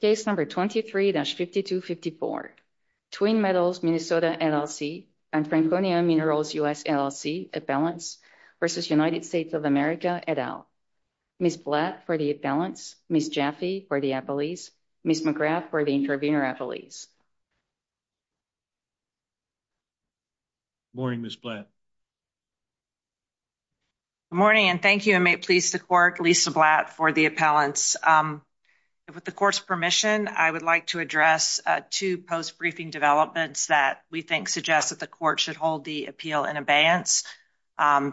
Case number 23-5254, Twin Metals Minnesota LLC and Franconia Minerals U.S. LLC appellants versus United States of America et al. Ms. Blatt for the appellants, Ms. Jaffe for the appellees, Ms. McGrath for the intervenor appellees. Morning Ms. Blatt. Good morning and thank you and may it please the court, Lisa Blatt for the appellants. With the court's permission, I would like to address two post-briefing developments that we think suggest that the court should hold the appeal in abeyance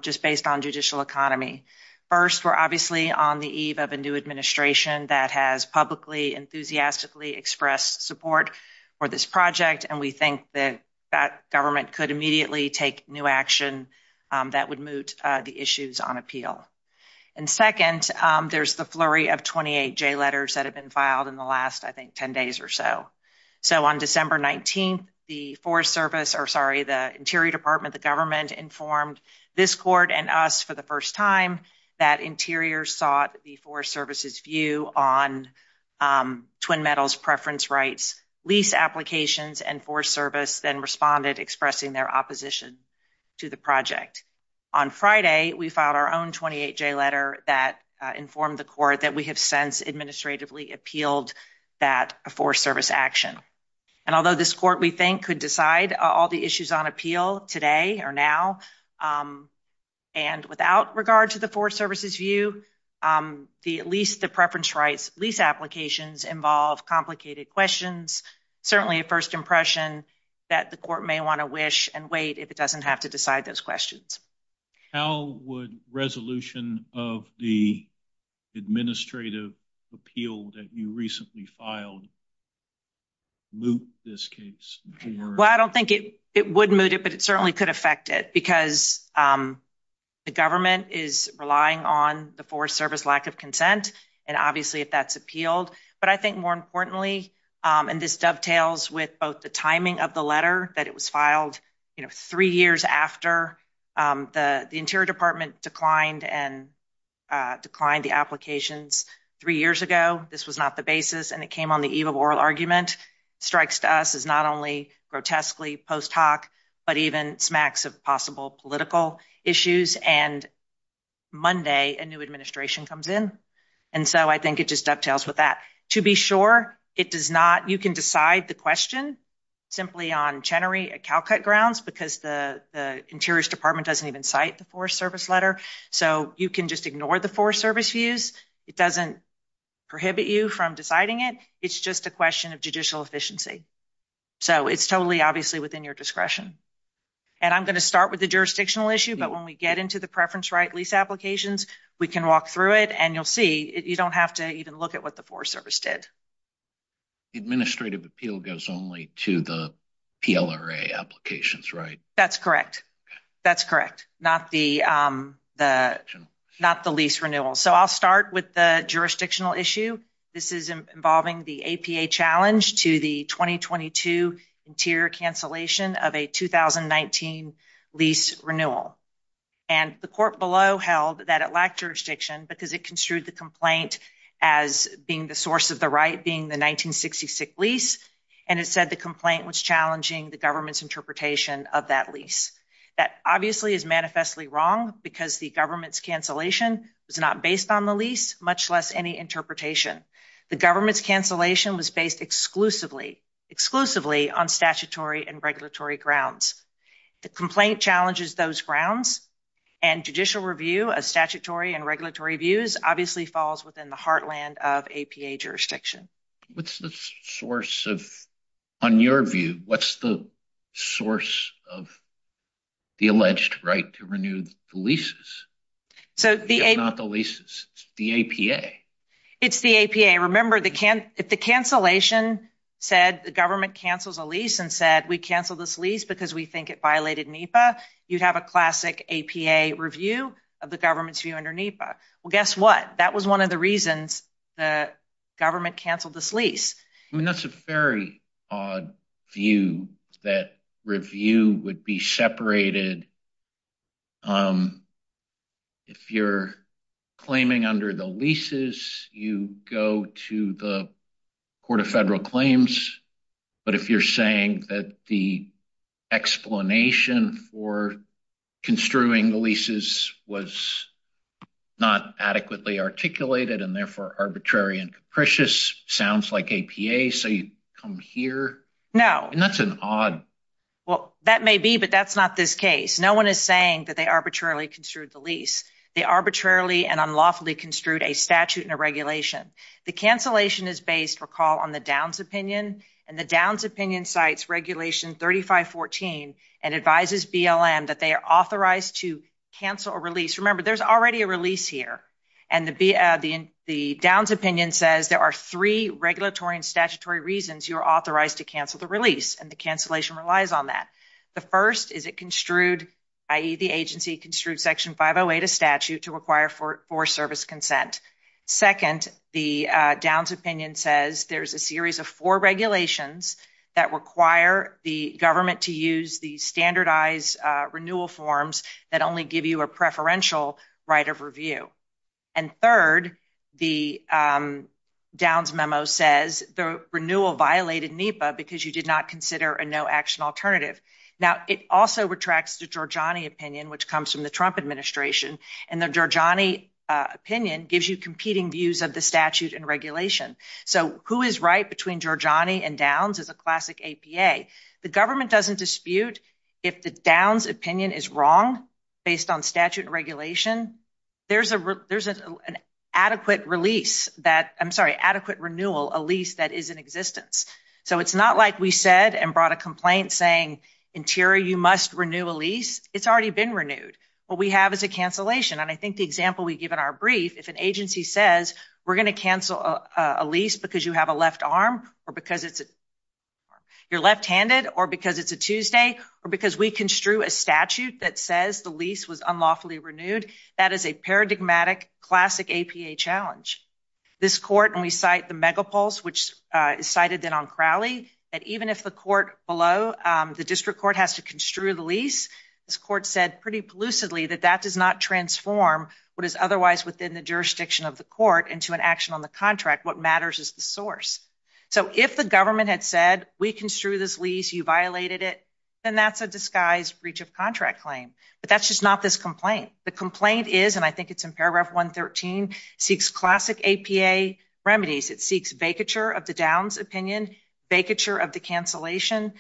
just based on judicial economy. First, we're obviously on the eve of a new administration that has publicly, enthusiastically expressed support for this project and we think that that government could immediately take new action that would moot the issues on appeal. And second, there's the flurry of 28 J letters that have been filed in the last, I think, 10 days or so. So, on December 19th, the Forest Service, or sorry, the Interior Department, the government informed this court and us for the first time that Interior sought the Forest Service's view on Twin Metals' preference rights, lease applications, and Forest Service then responded expressing their opposition to the project. On Friday, we filed our own 28 J letter that informed the court that we have since administratively appealed that Forest Service action. And although this court, we think, could decide all the issues on appeal today or now and without regard to the Forest Service's view, at least the preference rights lease applications involve complicated questions, certainly a first impression that the court may want to wish and wait if it administrative appeal that you recently filed moot this case. Well, I don't think it would moot it, but it certainly could affect it because the government is relying on the Forest Service lack of consent and obviously if that's appealed. But I think more importantly, and this dovetails with both the timing of the letter that it was three years after the Interior Department declined and declined the applications three years ago. This was not the basis and it came on the eve of oral argument, strikes to us as not only grotesquely post hoc, but even smacks of possible political issues. And Monday, a new administration comes in. And so I think it just dovetails with that. To be sure, you can decide the question simply on Chenery and Calcutt grounds because the Interior Department doesn't even cite the Forest Service letter. So you can just ignore the Forest Service views. It doesn't prohibit you from deciding it. It's just a question of judicial efficiency. So it's totally obviously within your discretion. And I'm going to start with the jurisdictional issue, but when we get into the preference right lease applications, we can walk through it and you'll see you don't have to even look at what the Forest Service did. Administrative appeal goes only to the PLRA applications, right? That's correct. That's correct. Not the lease renewal. So I'll start with the jurisdictional issue. This is involving the APA challenge to the 2022 interior cancellation of a 2019 lease renewal. And the court below held that it lacked jurisdiction because it construed the as being the source of the right being the 1966 lease, and it said the complaint was challenging the government's interpretation of that lease. That obviously is manifestly wrong because the government's cancellation was not based on the lease, much less any interpretation. The government's cancellation was based exclusively on statutory and regulatory grounds. The complaint challenges those grounds and judicial review of statutory and regulatory views obviously falls within the heartland of APA jurisdiction. What's the source of, on your view, what's the source of the alleged right to renew the leases? So the APA. It's the APA. Remember, if the cancellation said the government cancels a lease and said we cancel this lease because we think it violated NEPA, you'd have a classic review of the government's view under NEPA. Well, guess what? That was one of the reasons the government canceled this lease. I mean, that's a very odd view that review would be separated. If you're claiming under the leases, you go to the court of federal claims. But if you're saying that the explanation for construing the leases was not adequately articulated and therefore arbitrary and capricious, sounds like APA. So you come here. No. And that's an odd. Well, that may be, but that's not this case. No one is saying that they arbitrarily construed the lease. They arbitrarily and unlawfully construed a statute and a regulation. The cancellation is based, recall, on the Downs opinion. And the Downs opinion cites regulation 3514 and advises BLM that they are authorized to cancel a release. Remember, there's already a release here. And the Downs opinion says there are three regulatory and statutory reasons you are authorized to cancel the release. And the cancellation relies on that. The first is it construed, i.e., the agency construed section 508, a statute to require for service consent. Second, the Downs opinion says there's a series of four regulations that require the government to use the standardized renewal forms that only give you a preferential right of review. And third, the Downs memo says the renewal violated NEPA because you did not consider a no-action alternative. Now, it also retracts the Giorgiani opinion, which comes from the Trump administration. And the Giorgiani opinion gives you competing views of the statute and regulation. So who is right between Giorgiani and Downs is a classic APA. The government doesn't dispute if the Downs opinion is wrong based on statute and regulation. There's an adequate release that—I'm sorry, adequate renewal, a lease that is in existence. So it's not like we said and brought a complaint saying, Interior, you must renew a lease. It's already been renewed. What we have is a cancellation. And I think the example we give in our brief, if an agency says, we're going to cancel a lease because you have a left arm or because you're left-handed or because it's a Tuesday or because we construe a statute that says the lease was unlawfully renewed, that is a paradigmatic, classic APA challenge. This court—and we cite the megapulse, which is cited then on Crowley—that even if the court below, the district court has to construe the lease, this court said pretty plucidly that that does not transform what is otherwise within the jurisdiction of the court into an action on the contract. What matters is the source. So if the government had said, we construe this lease, you violated it, then that's a disguised breach of contract claim. But that's just not this complaint. The complaint is—and I think it's in paragraph 113—seeks classic APA remedies. It seeks vacature of the Downs opinion, vacature of the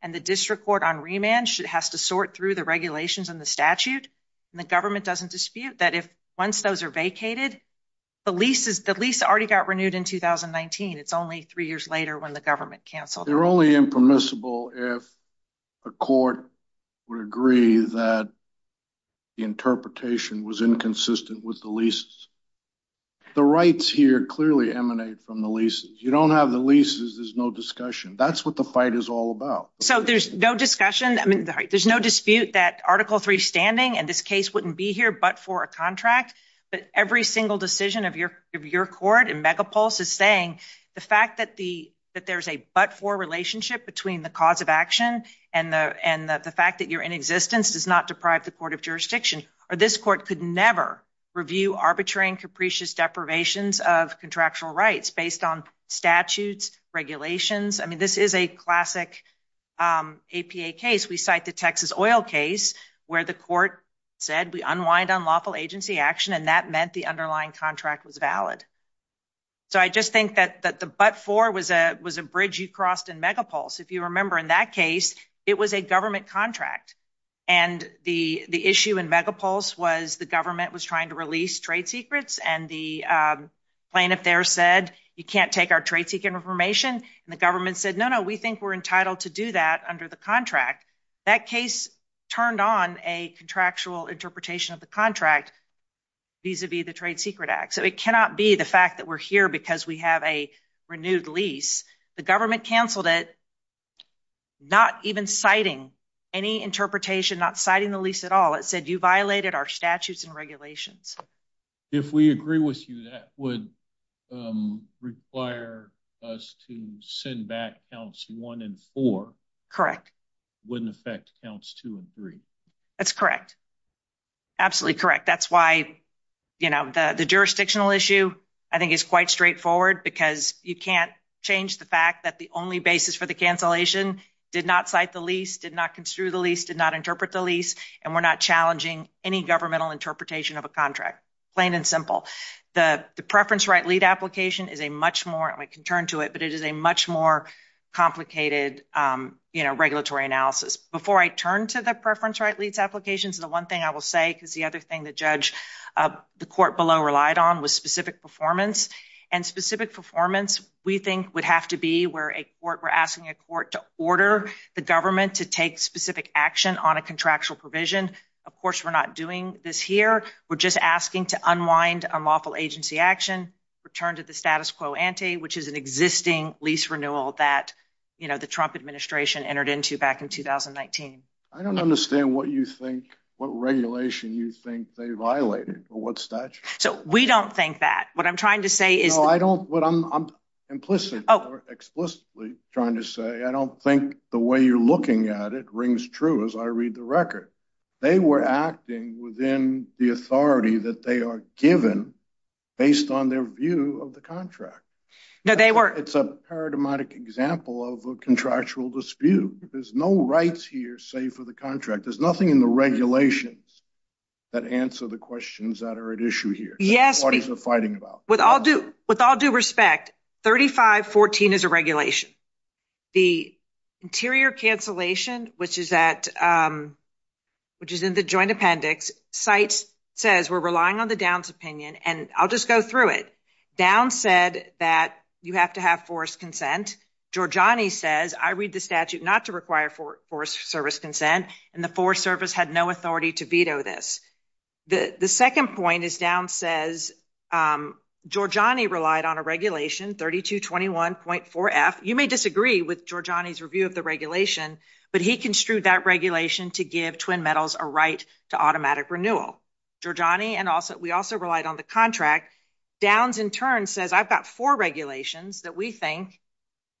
and the district court on remand has to sort through the regulations and the statute, and the government doesn't dispute that if once those are vacated, the lease already got renewed in 2019. It's only three years later when the government canceled. They're only impermissible if a court would agree that the interpretation was inconsistent with the leases. The rights here clearly emanate from the leases. You don't have the leases, there's no discussion. That's the fight is all about. So there's no discussion. I mean, there's no dispute that Article 3 standing and this case wouldn't be here but for a contract. But every single decision of your court and Megapulse is saying the fact that there's a but-for relationship between the cause of action and the fact that you're in existence does not deprive the court of jurisdiction. This court could never review arbitrary and capricious deprivations of contractual rights based on statutes, regulations. I mean, this is a classic APA case. We cite the Texas oil case where the court said we unwind on lawful agency action and that meant the underlying contract was valid. So I just think that the but-for was a bridge you crossed in Megapulse. If you remember in that case, it was a government contract and the issue in Megapulse was the government was to release trade secrets and the plaintiff there said you can't take our trade secret information and the government said no, no, we think we're entitled to do that under the contract. That case turned on a contractual interpretation of the contract vis-a-vis the Trade Secret Act. So it cannot be the fact that we're here because we have a renewed lease. The government canceled it not even citing any interpretation, not citing the lease at all. It said you violated our statutes and regulations. If we agree with you that would require us to send back counts one and four. Correct. Wouldn't affect counts two and three. That's correct. Absolutely correct. That's why, you know, the jurisdictional issue I think is quite straightforward because you can't change the fact that the only basis for the cancellation did not cite the lease, did not construe the lease, did not interpret the lease, and we're not challenging any governmental interpretation of a contract. Plain and simple. The preference right lead application is a much more, I can turn to it, but it is a much more complicated, you know, regulatory analysis. Before I turn to the preference right leads applications, the one thing I will say because the other thing the judge, the court below relied on was specific performance and specific performance we think would have to where we're asking a court to order the government to take specific action on a contractual provision. Of course we're not doing this here. We're just asking to unwind unlawful agency action, return to the status quo ante, which is an existing lease renewal that, you know, the Trump administration entered into back in 2019. I don't understand what you think, what regulation you think they violated or what statute. So we don't think that. What I'm trying to say, I don't think the way you're looking at it rings true as I read the record. They were acting within the authority that they are given based on their view of the contract. It's a paradigmatic example of a contractual dispute. There's no rights here save for the contract. There's nothing in the regulations that answer the questions that are at issue Yes. With all due respect, 3514 is a regulation. The interior cancellation, which is that, which is in the joint appendix, cites, says we're relying on the Downs opinion and I'll just go through it. Downs said that you have to have forced consent. Georgiani says I read the statute not to require forced service consent and the Forest Service had no authority to veto this. The second point is Downs says Georgiani relied on a regulation, 3221.4f. You may disagree with Georgiani's review of the regulation, but he construed that regulation to give twin metals a right to automatic renewal. Georgiani and also, we also relied on the contract. Downs in turn says I've got four regulations that we think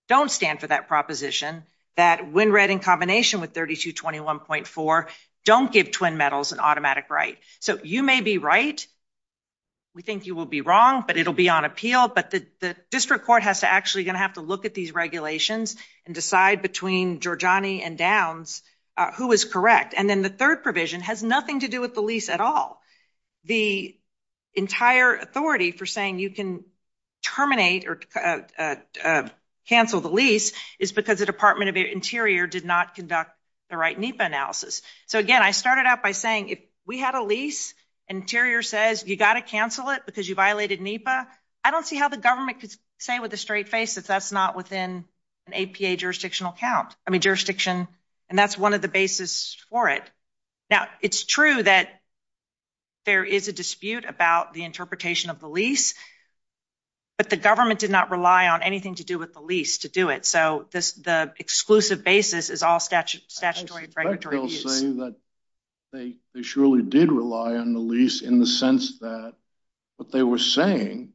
don't stand for that proposition, that when read in combination with 3221.4 don't give twin metals an automatic right. So you may be right. We think you will be wrong, but it'll be on appeal. But the district court has to actually going to have to look at these regulations and decide between Georgiani and Downs who is correct. And then the third provision has nothing to do with the lease at all. The entire authority for saying you can terminate or cancel the lease is because the Department of Interior did not conduct the right NEPA analysis. So again, I started out by saying if we had a lease, Interior says you got to cancel it because you violated NEPA. I don't see how the government could say with a straight face that that's not within an APA jurisdictional count. I mean, and that's one of the basis for it. Now, it's true that there is a dispute about the interpretation of the lease, but the government did not rely on anything to do with the lease to do it. So the exclusive basis is all statutory and regulatory use. I suspect they'll say that they surely did rely on the lease in the sense that what they were saying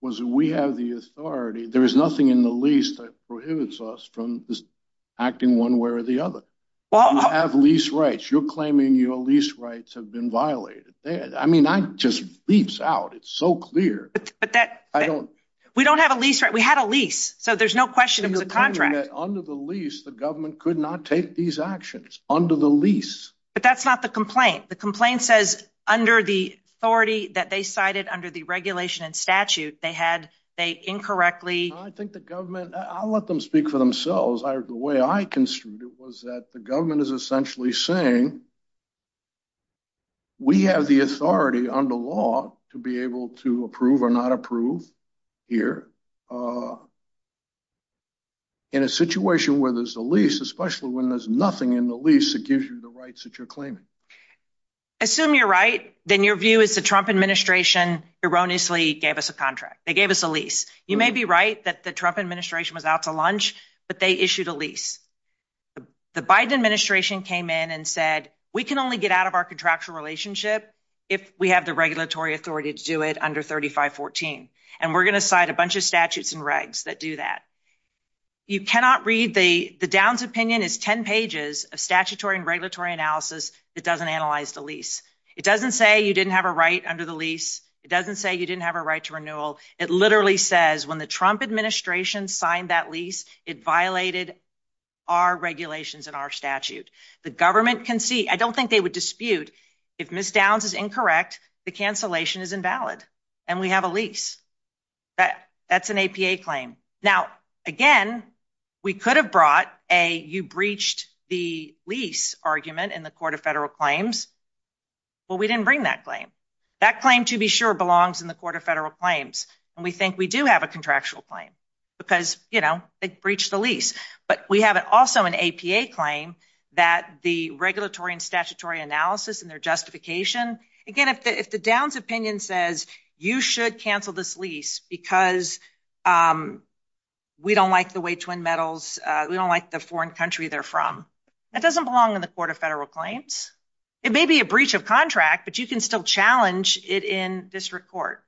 was we have the authority. There is nothing in the lease that prohibits us acting one way or the other. You have lease rights. You're claiming your lease rights have been violated. I mean, that just bleeps out. It's so clear. We don't have a lease. We had a lease. So there's no question it was a contract. Under the lease, the government could not take these actions under the lease. But that's not the complaint. The complaint says under the authority that they cited under the regulation and statute, they had, they incorrectly. I think the government, I'll let them speak for themselves. The way I construed it was that the government is essentially saying we have the authority under law to be able to approve or not approve here in a situation where there's a lease, especially when there's nothing in the lease that gives you the rights that you're claiming. Assume you're right. Then your view is the Trump administration erroneously gave us a contract. They gave us a lease. You may be right that the Trump administration was out to lunch, but they issued a lease. The Biden administration came in and said, we can only get out of our contractual relationship if we have the regulatory authority to do it under 3514. And we're going to cite a bunch of statutes and regs that do that. You cannot read the Downs opinion is 10 pages of statutory and regulatory analysis that doesn't analyze the lease. It doesn't say you didn't have a right under the lease. It doesn't say you didn't have a right to renewal. It literally says when the Trump administration signed that lease, it violated our regulations and our statute. The government can see. I don't think they would dispute if Ms. Downs is incorrect, the cancellation is invalid and we have a lease. That's an APA claim. Now, again, we could have brought a you breached the lease argument in the court of federal claims, but we didn't bring that claim. That claim, to be sure, belongs in the court of federal claims. And we think we do have a contractual claim because, you know, they breached the lease. But we have also an APA claim that the regulatory and statutory analysis and their justification. Again, if the Downs opinion says you should cancel this lease because we don't like the way twin metals, we don't like the foreign country they're from, that doesn't belong in the court of federal claims. It may be a breach of contract, but you can still challenge it in district court.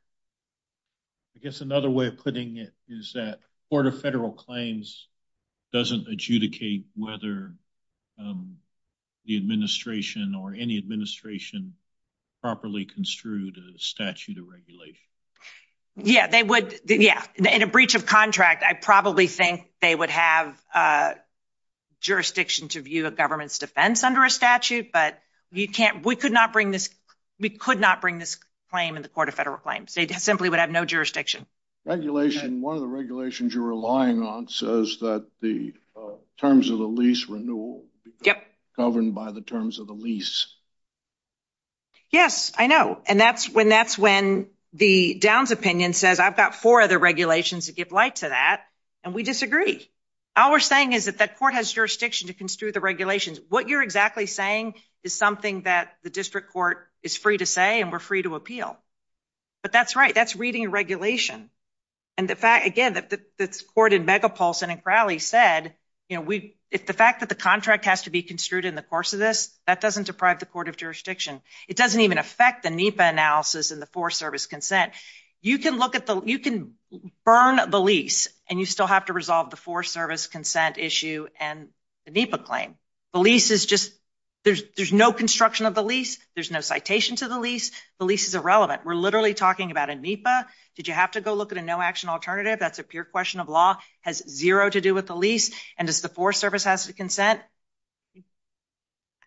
I guess another way of putting it is that court of federal claims doesn't adjudicate whether the administration or any administration properly construed a statute of regulation. Yeah, they would. Yeah. In a breach of contract, I probably think they would have jurisdiction to view a government's defense under a statute. But you can't we could not bring this. We could not bring this claim in the court of federal claims. They simply would have no jurisdiction. Regulation. One of the regulations you're relying on says that the terms of the lease renewal governed by the terms of the lease. Yes, I know. And that's when that's when the Downs opinion says I've got four other regulations to give light to that. And we disagree. All we're saying is that that court has jurisdiction to the regulations. What you're exactly saying is something that the district court is free to say and we're free to appeal. But that's right. That's reading regulation. And the fact, again, that the court in Megapulse and in Crowley said, you know, we if the fact that the contract has to be construed in the course of this, that doesn't deprive the court of jurisdiction. It doesn't even affect the NEPA analysis and the for service consent. You can look at the you can burn the and you still have to resolve the for service consent issue and the NEPA claim. The lease is just there's there's no construction of the lease. There's no citation to the lease. The lease is irrelevant. We're literally talking about a NEPA. Did you have to go look at a no action alternative? That's a pure question of law has zero to do with the lease. And as the for service has to consent.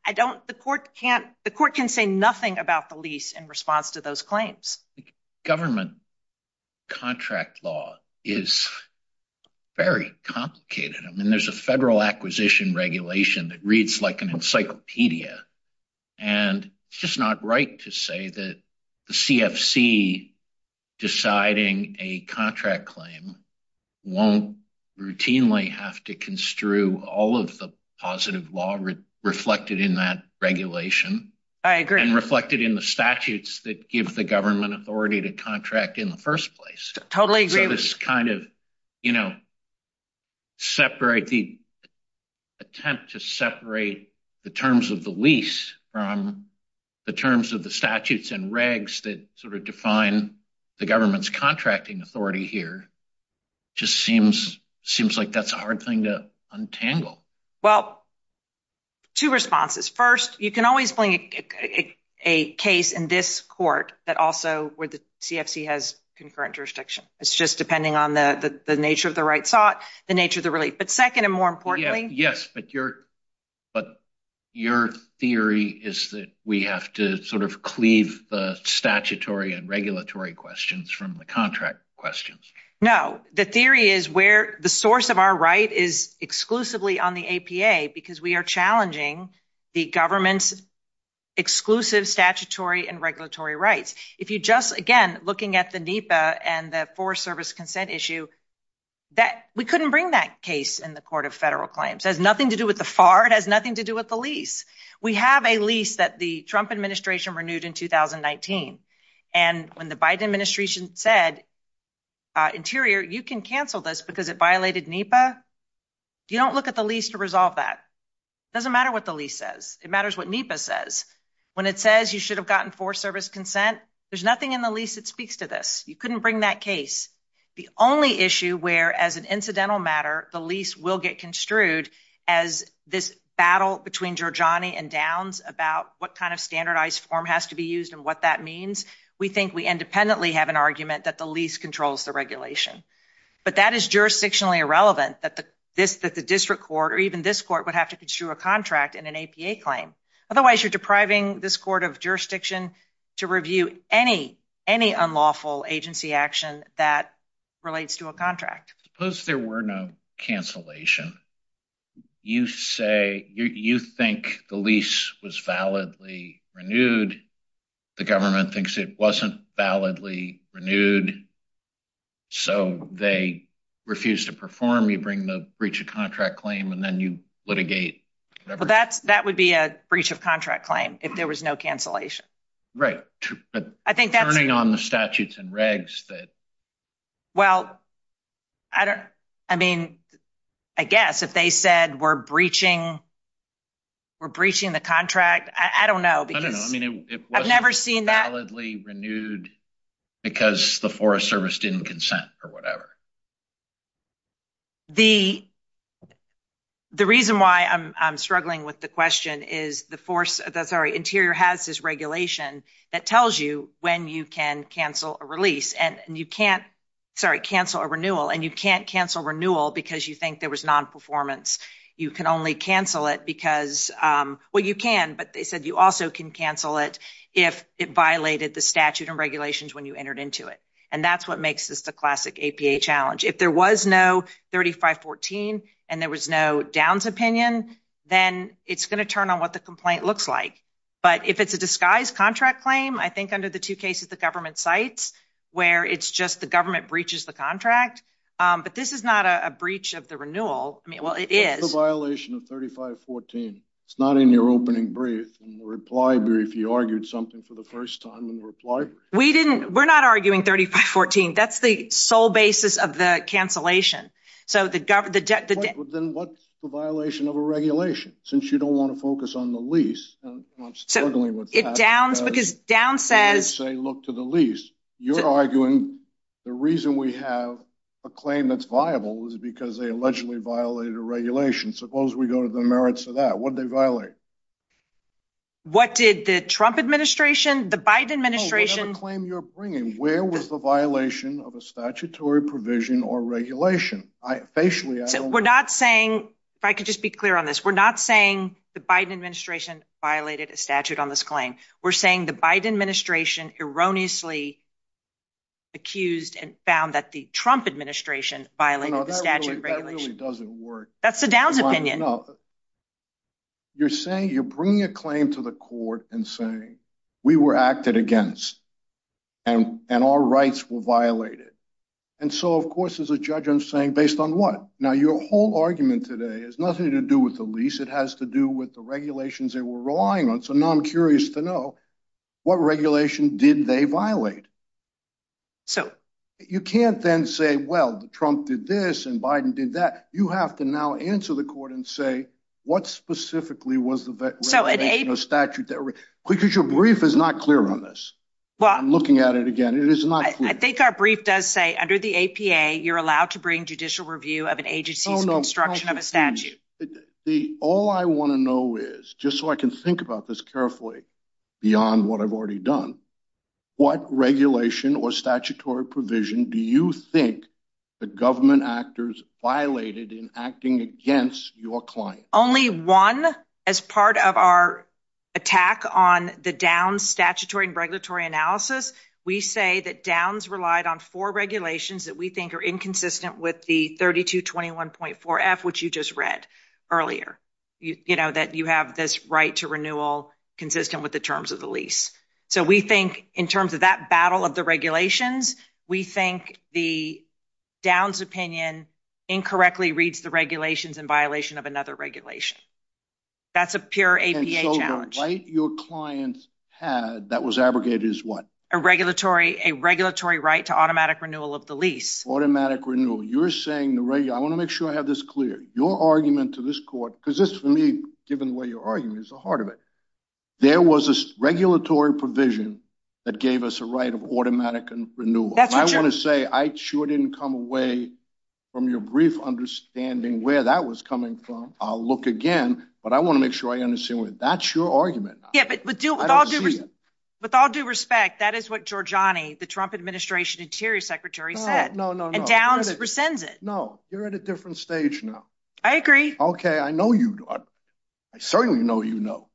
I don't the court can't the court can say nothing about the lease in response to those claims. Government contract law is very complicated. I mean, there's a federal acquisition regulation that reads like an encyclopedia. And it's just not right to say that the CFC deciding a contract claim won't routinely have to construe all of positive law reflected in that regulation. I agree and reflected in the statutes that give the government authority to contract in the first place. Totally agree with this kind of, you know, separate the attempt to separate the terms of the lease from the terms of the statutes and regs that sort of define the government's contracting authority here. Just seems seems like that's a hard thing to untangle. Well, two responses. First, you can always bring a case in this court that also where the CFC has concurrent jurisdiction. It's just depending on the nature of the right sought the nature of the relief. But second, and more importantly, yes, but your but your theory is that we have to sort of cleave the statutory and regulatory questions from the contract questions. No, the theory is where the source of our right is exclusively on the APA because we are challenging the government's exclusive statutory and regulatory rights. If you just again, looking at the NEPA and the Forest Service consent issue, that we couldn't bring that case in the Court of Federal Claims has nothing to do with the fart has nothing to do with the lease. We have a lease that the Trump administration renewed in 2019. And when the Biden administration said, interior, you can cancel this because it violated NEPA. You don't look at the lease to resolve that. Doesn't matter what the lease says. It matters what NEPA says. When it says you should have gotten Forest Service consent. There's nothing in the lease that speaks to this. You couldn't bring that case. The only issue where as an incidental matter, the lease will get construed as this battle between your Johnny and downs about what kind of standardized form has to be used and what that means. We think we independently have an argument that the lease controls the regulation. But that is jurisdictionally irrelevant that the this that the district court or even this court would have to construe a contract in an APA claim. Otherwise, you're depriving this court of jurisdiction to review any any unlawful agency action that relates to a contract. Suppose there were no cancellation. You say you think the lease was validly renewed. The government thinks it wasn't validly renewed. So they refused to perform. You bring the breach of contract claim and then you litigate. Well, that's that would be a breach of contract claim if there was no cancellation. Right. I think turning on the statutes and regs that. Well, I don't I mean, I guess if they said we're breaching. We're breaching the contract. I don't know. I mean, I've never seen that. Validly renewed because the Forest Service didn't consent or whatever. The the reason why I'm struggling with the question is the force that's already interior has this regulation that tells you when you can cancel a release and you can't sorry, cancel a renewal and you can't cancel renewal because you think there was nonperformance. You can only cancel it because well, you can. But they said you also can cancel it if it violated the statute and regulations when you entered into it. And that's what makes this the classic APA challenge. If there was no thirty five fourteen and there was no downs opinion, then it's going to turn on what the complaint looks like. But if it's a disguised contract claim, I think under the two cases, the government sites where it's just the government breaches the contract. But this is not a breach of the renewal. I mean, well, it is a violation of thirty five fourteen. It's not in your opening brief and reply. If you argued something for the first time in reply, we didn't we're not arguing thirty five fourteen. That's the sole basis of the cancellation. So the government then what's the violation of a regulation since you don't want to focus on the lease? So it downs because down says, say, look to the lease. You're arguing the reason we have a claim that's viable is because they allegedly violated a regulation. Suppose we go to the merits of that. What did they violate? What did the Trump administration, the Biden administration claim you're bringing? Where was the violation of a statutory provision or regulation? Facially, we're not saying if I could just be clear on this, we're not saying the Biden administration violated a statute on this claim. We're saying the Biden administration erroneously accused and found that the Trump administration violated the statute. That's the Dow's opinion. You're saying you're bringing a claim to the court and saying we were acted against and and our rights were violated. And so, of course, as a judge, I'm saying based on what? Now, your whole argument today is nothing to do with the lease. It has to do with the regulations they were relying on. So now I'm curious to know what regulation did they violate. So you can't then say, well, Trump did this and Biden did that. You have to now answer the court and say, what specifically was the statute because your brief is not clear on this. Well, I'm looking at it again. It is not. I think our brief does say under the APA, you're allowed to bring judicial review of an agency's construction of a statute. The all I want to know is just so I can think about this carefully beyond what I've already done, what regulation or statutory provision do you think the government actors violated in acting against your client? Only one. As part of our attack on the down statutory and regulatory analysis, we say that downs relied on four regulations that we think are inconsistent with the thirty to twenty one point four F, which you just read earlier, you know, that you have this right to renewal consistent with the terms of the lease. So we think in terms of that battle of the regulations, we think the downs opinion incorrectly reads the regulations in violation of another regulation. That's a pure APA challenge. Right. Your clients had that was abrogated as what? A regulatory, a regulatory right to automatic renewal of the lease. Automatic renewal. You're saying the radio. I want to make sure I have this clear. Your argument to this court, because this for me, given where you are, is the heart of it. There was a regulatory provision that gave us a right of automatic renewal. I want to say I sure didn't come away from your brief understanding where that was coming from. I'll look again, but I want to make sure I understand what that's your argument. Yeah, but with all due respect, with all due respect, that is what Georgiani, the Trump administration interior secretary said. No, no, no, no. And downs rescinds it. No, you're at a different stage now. I agree. OK, I know you. I certainly know, you know.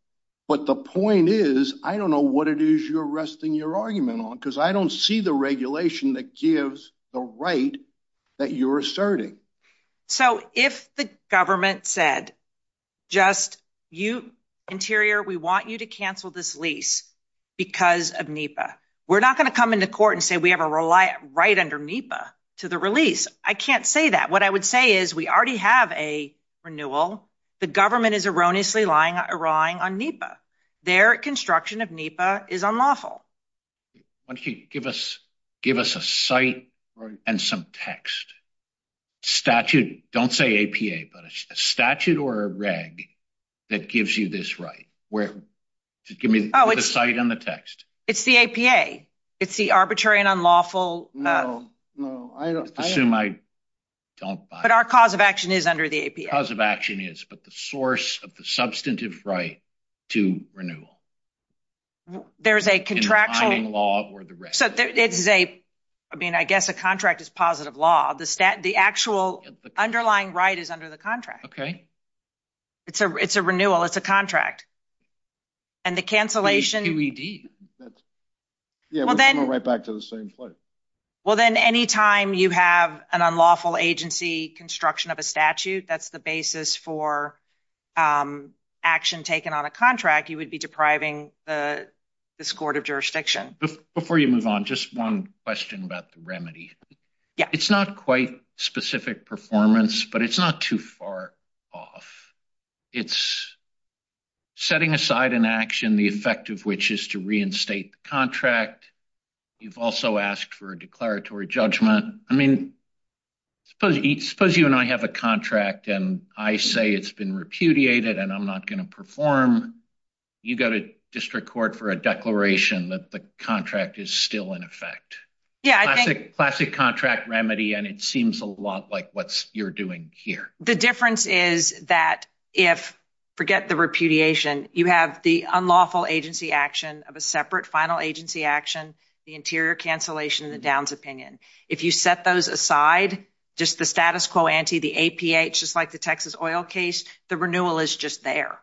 But the point is, I don't know what it is you're arguing on because I don't see the regulation that gives the right that you're asserting. So if the government said just you interior, we want you to cancel this lease because of NEPA, we're not going to come into court and say we have a right under NEPA to the release. I can't say that. What I would say is we already have a renewal. The government is erroneously lying, erroring on NEPA. Their construction of NEPA is unlawful. Once you give us give us a site and some text statute, don't say APA, but a statute or a reg that gives you this right where to give me the site and the text. It's the APA. It's the arbitrary and unlawful. No, no, I assume I don't. But our cause of action is under the APA. But the source of the substantive right to renewal. There's a contractual law. So it's a I mean, I guess a contract is positive law. The stat, the actual underlying right is under the contract. Okay. It's a it's a renewal. It's a contract. And the cancellation we did. Yeah, well, then right back to the same place. Well, then any time you have an unlawful agency construction of a statute, that's the basis for action taken on a contract, you would be depriving the court of jurisdiction before you move on. Just one question about the remedy. It's not quite specific performance, but it's not too far off. It's setting aside an action, the effect of which is to reinstate the contract. You've also asked for a declaratory judgment. I mean, suppose you and I have a contract and I say it's been repudiated and I'm not going to perform. You go to district court for a declaration that the contract is still in effect. Classic contract remedy. And it seems a lot like what you're doing here. The difference is that if forget the repudiation, you have the unlawful agency action of a separate final agency action, the interior cancellation, the Downs opinion. If you set those aside, just the status quo ante, the APH, just like the Texas oil case, the renewal is just there.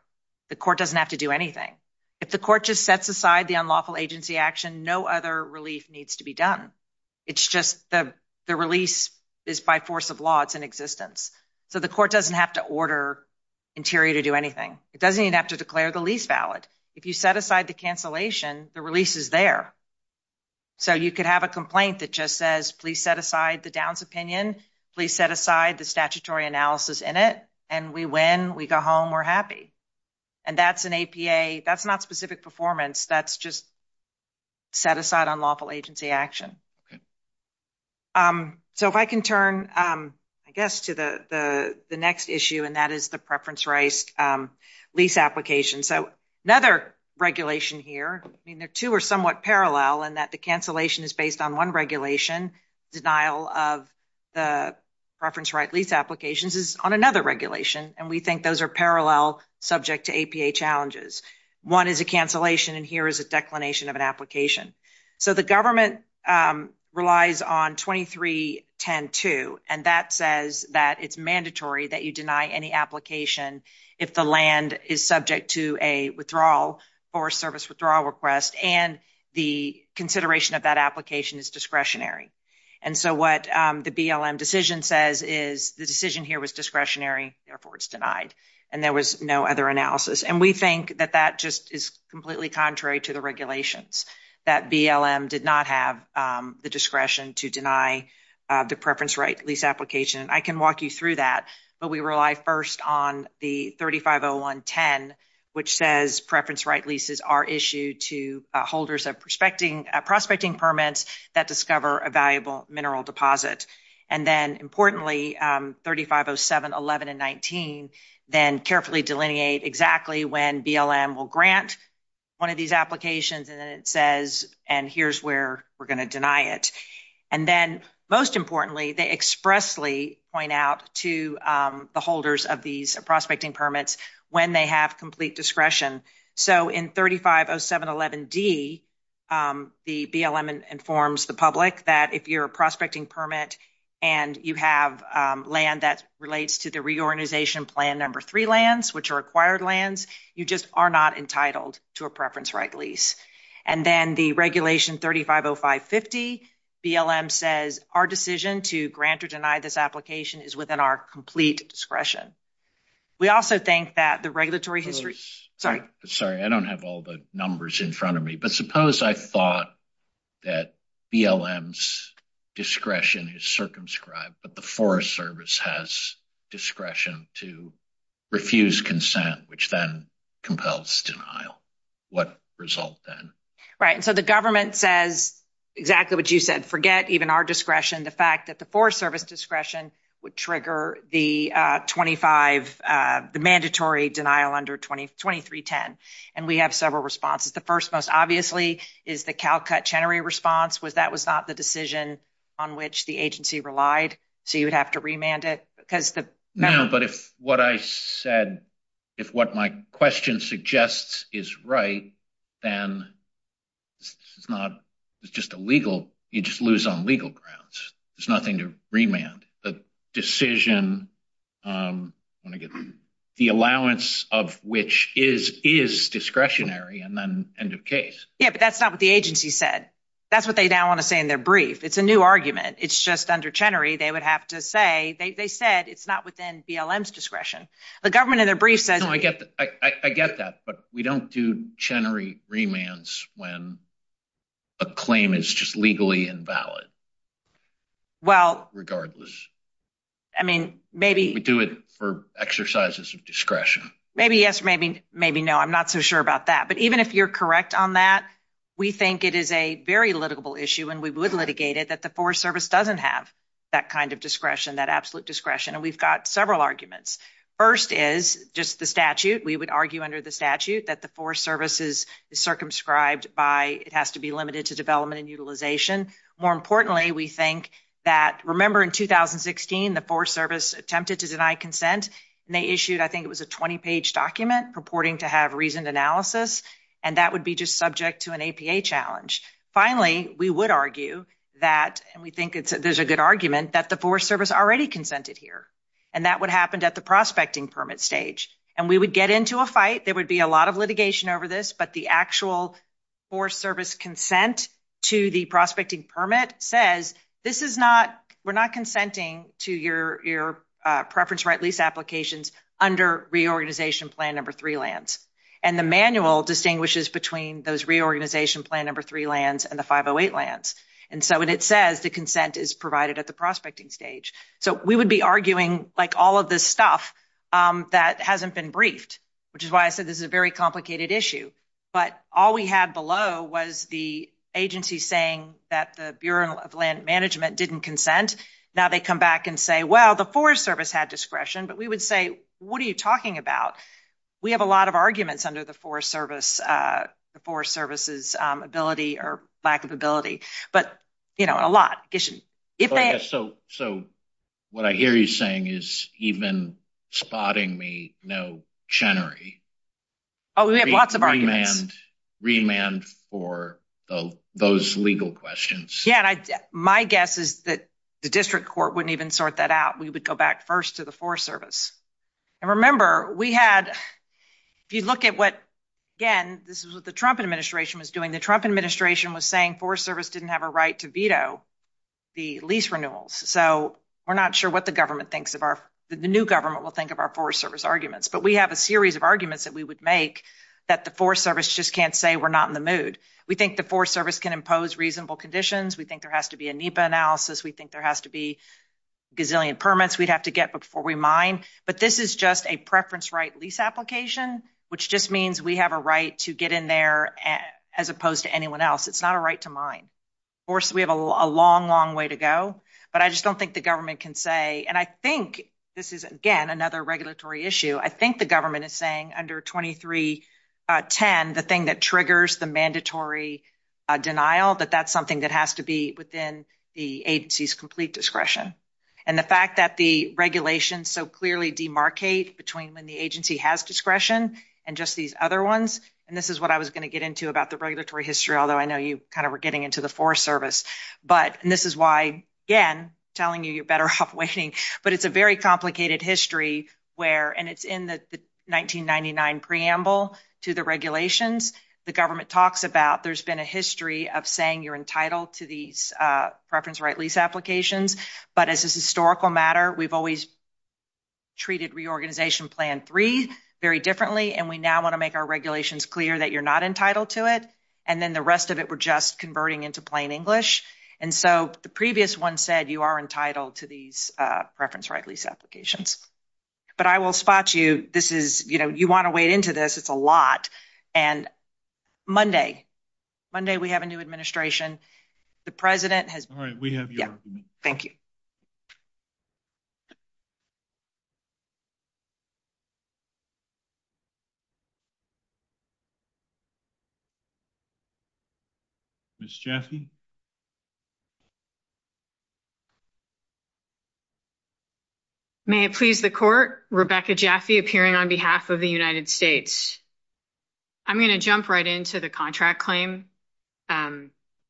The court doesn't have to do anything. If the court just sets aside the unlawful agency action, no other relief needs to be done. It's just the release is by force of law. It's in existence. So the court doesn't have to order interior to do anything. It doesn't even have to declare the lease valid. If you set aside the cancellation, the release is there. So you could have a complaint that just says, please set aside the Downs opinion. Please set aside the statutory analysis in it. And we win. We go home. We're happy. And that's an APA. That's not specific performance. That's just set aside unlawful agency action. So if I can turn, I guess, to the next issue, and that is the preference-raised lease application. So another regulation here, I mean, the two are somewhat parallel in that the cancellation is based on one regulation, denial of the preference-raised lease applications is on another regulation. And we think those are parallel subject to APA challenges. One is a cancellation, and here is a declination of an application. So the government relies on 23102, and that says that it's mandatory that you deny any application if the land is subject to a withdrawal or service withdrawal request, and the consideration of that application is discretionary. And so what the BLM decision says is the decision here was discretionary. Therefore, it's denied. And there was no other analysis. And we think that that just is completely contrary to the regulations, that BLM did not have the discretion to deny the preference-raised lease application. I can walk you through that, but we rely first on the 350110, which says preference-raised leases are issued to holders of prospecting permits that discover a valuable mineral deposit. And then, importantly, 350711 and 350719 then carefully delineate exactly when BLM will grant one of these applications, and then it says, and here's where we're going to deny it. And then, most importantly, they expressly point out to the holders of these prospecting permits when they have complete discretion. So in 350711D, the BLM informs the public that if you're a prospecting permit and you have land that relates to the reorganization plan number three lands, which are acquired lands, you just are not entitled to a preference-raised lease. And then the regulation 350550, BLM says our decision to grant or deny this application is within our complete discretion. We also think that the regulatory history, sorry. Sorry, I don't have all the numbers in front of me, but suppose I thought that BLM's discretion is circumscribed, but the Forest Service has discretion to refuse consent, which then compels denial. What result then? Right. And so the government says exactly what you said, forget even our discretion, the fact that the Forest Service discretion would trigger the 25, the mandatory denial under 2310. And we have several responses. The first most obviously is the Calcutt-Chenery response, was that was not the decision on which the agency relied? So you would have to remand it? No, but if what I said, if what my question suggests is right, then it's not, it's just illegal. You just lose on legal grounds. There's nothing to remand. The decision, um, when I get the allowance of which is, is discretionary and then end of case. Yeah, but that's not what the agency said. That's what they now want to say in their brief. It's a new argument. It's just under Chenery. They would have to say, they said it's not within BLM's discretion. The government in their brief says. No, I get that. I get that, but we don't do Chenery remands when a claim is just legally invalid. Well, regardless, I mean, maybe we do it for exercises of discretion. Maybe yes, maybe, maybe no. I'm not so sure about that. But even if you're correct on that, we think it is a very litigable issue and we would litigate it that the Forest Service doesn't have that kind of discretion, that absolute discretion. And we've got several arguments. First is just the statute. We would argue under the statute that the Forest Service is circumscribed by, it has to be limited to development and utilization. More importantly, we think that, remember in 2016, the Forest Service attempted to deny consent and they issued, I think it was a 20-page document purporting to have reasoned analysis. And that would be just subject to an APA challenge. Finally, we would argue that, and we think there's a good argument, that the Forest Service already consented here. And that would happen at the prospecting permit stage. And we get into a fight, there would be a lot of litigation over this, but the actual Forest Service consent to the prospecting permit says, this is not, we're not consenting to your preference right lease applications under reorganization plan number three lands. And the manual distinguishes between those reorganization plan number three lands and the 508 lands. And so when it says the consent is provided at the prospecting stage. So we would be arguing like all of this stuff that hasn't been briefed, which is why I said this is a very complicated issue. But all we had below was the agency saying that the Bureau of Land Management didn't consent. Now they come back and say, well, the Forest Service had discretion, but we would say, what are you talking about? We have a lot of arguments under the Forest Service, the Forest Service's ability or lack of ability, but you know, a lot. Yeah. So, so what I hear you saying is even spotting me, no Chenery. Oh, we have lots of arguments. Remand for those legal questions. Yeah. And I, my guess is that the district court wouldn't even sort that out. We would go back first to the Forest Service. And remember we had, if you look at what, again, this is what the Trump administration was doing. The Trump administration was saying Forest Service didn't have a right to the lease renewals. So we're not sure what the government thinks of our, the new government will think of our Forest Service arguments, but we have a series of arguments that we would make that the Forest Service just can't say we're not in the mood. We think the Forest Service can impose reasonable conditions. We think there has to be a NEPA analysis. We think there has to be gazillion permits we'd have to get before we mine. But this is just a preference right lease application, which just means we have a right to get in there as opposed to anyone else. It's not a right to mine. Of course, we have a long, long way to go, but I just don't think the government can say, and I think this is, again, another regulatory issue. I think the government is saying under 2310, the thing that triggers the mandatory denial, that that's something that has to be within the agency's complete discretion. And the fact that the regulations so clearly demarcate between when the agency has discretion and just these other ones, and this is what I was going to get into about the regulatory history, although I know you kind of were getting into the Forest Service, but this is why, again, telling you you're better off waiting, but it's a very complicated history where, and it's in the 1999 preamble to the regulations, the government talks about there's been a history of saying you're entitled to these preference right lease applications, but as a historical matter, we've always treated reorganization plan three very differently, and we now want to make our regulations clear that you're not entitled to it, and then the rest of it, we're just converting into plain English. And so the previous one said you are entitled to these preference right lease applications. But I will spot you. This is, you know, you want to wade into this. It's a lot. And Monday, Monday, we have a new administration. The president has. All right, we have you. Thank you. Ms. Jaffe. May it please the court, Rebecca Jaffe appearing on behalf of the United States. I'm going to jump right into the contract claim.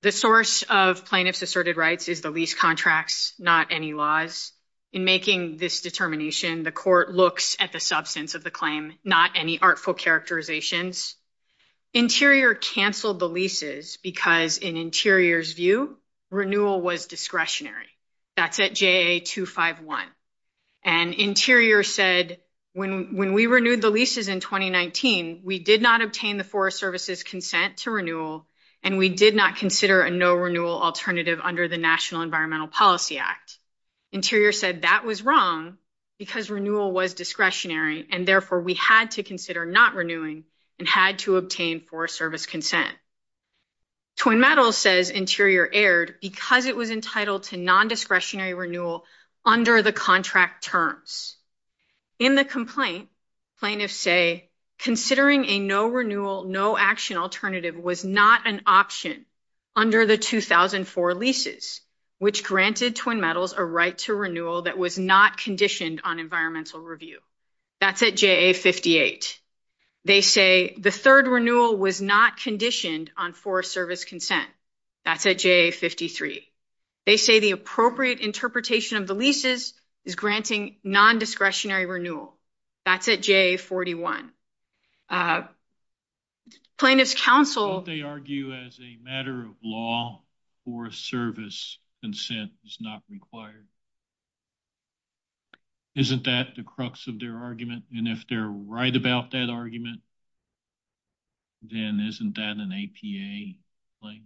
The source of plaintiff's asserted rights is the lease contracts, not any laws. In making this determination, the court looks at the substance of the claim, not any artful characterizations. Interior canceled the leases because in Interior's view, renewal was discretionary. That's at JA 251. And Interior said, when we renewed the leases in 2019, we did not obtain the Forest Service's consent to renewal, and we did not consider a no renewal alternative under the National Environmental Policy Act. Interior said that was wrong because renewal was discretionary, and therefore we had to consider not renewing and had to obtain Forest Service consent. Twin Metals says Interior erred because it was entitled to non-discretionary renewal under the contract terms. In the complaint, plaintiffs say considering a no renewal, no action alternative was not an option under the 2004 leases, which granted Twin Metals a right to renewal that was not conditioned on environmental review. That's at JA 58. They say the third renewal was not conditioned on Forest Service consent. That's at JA 53. They say the appropriate interpretation of the leases is granting non-discretionary renewal. That's at JA 41. Plaintiffs counsel... Don't they argue as a matter of law, Forest Service consent is not required? Isn't that the crux of their argument? And if they're right about that argument, then isn't that an APA claim?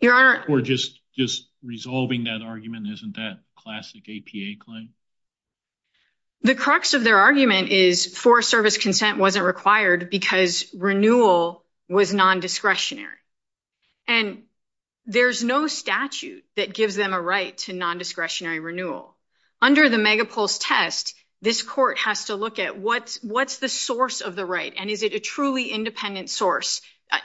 Your Honor... Or just resolving that argument, isn't that classic APA claim? The crux of their argument is Forest Service consent wasn't required because renewal was non-discretionary. And there's no statute that gives them a right to non-discretionary renewal. Under the Megapulse test, this court has to look at what's the source of the right and is it a truly independent source,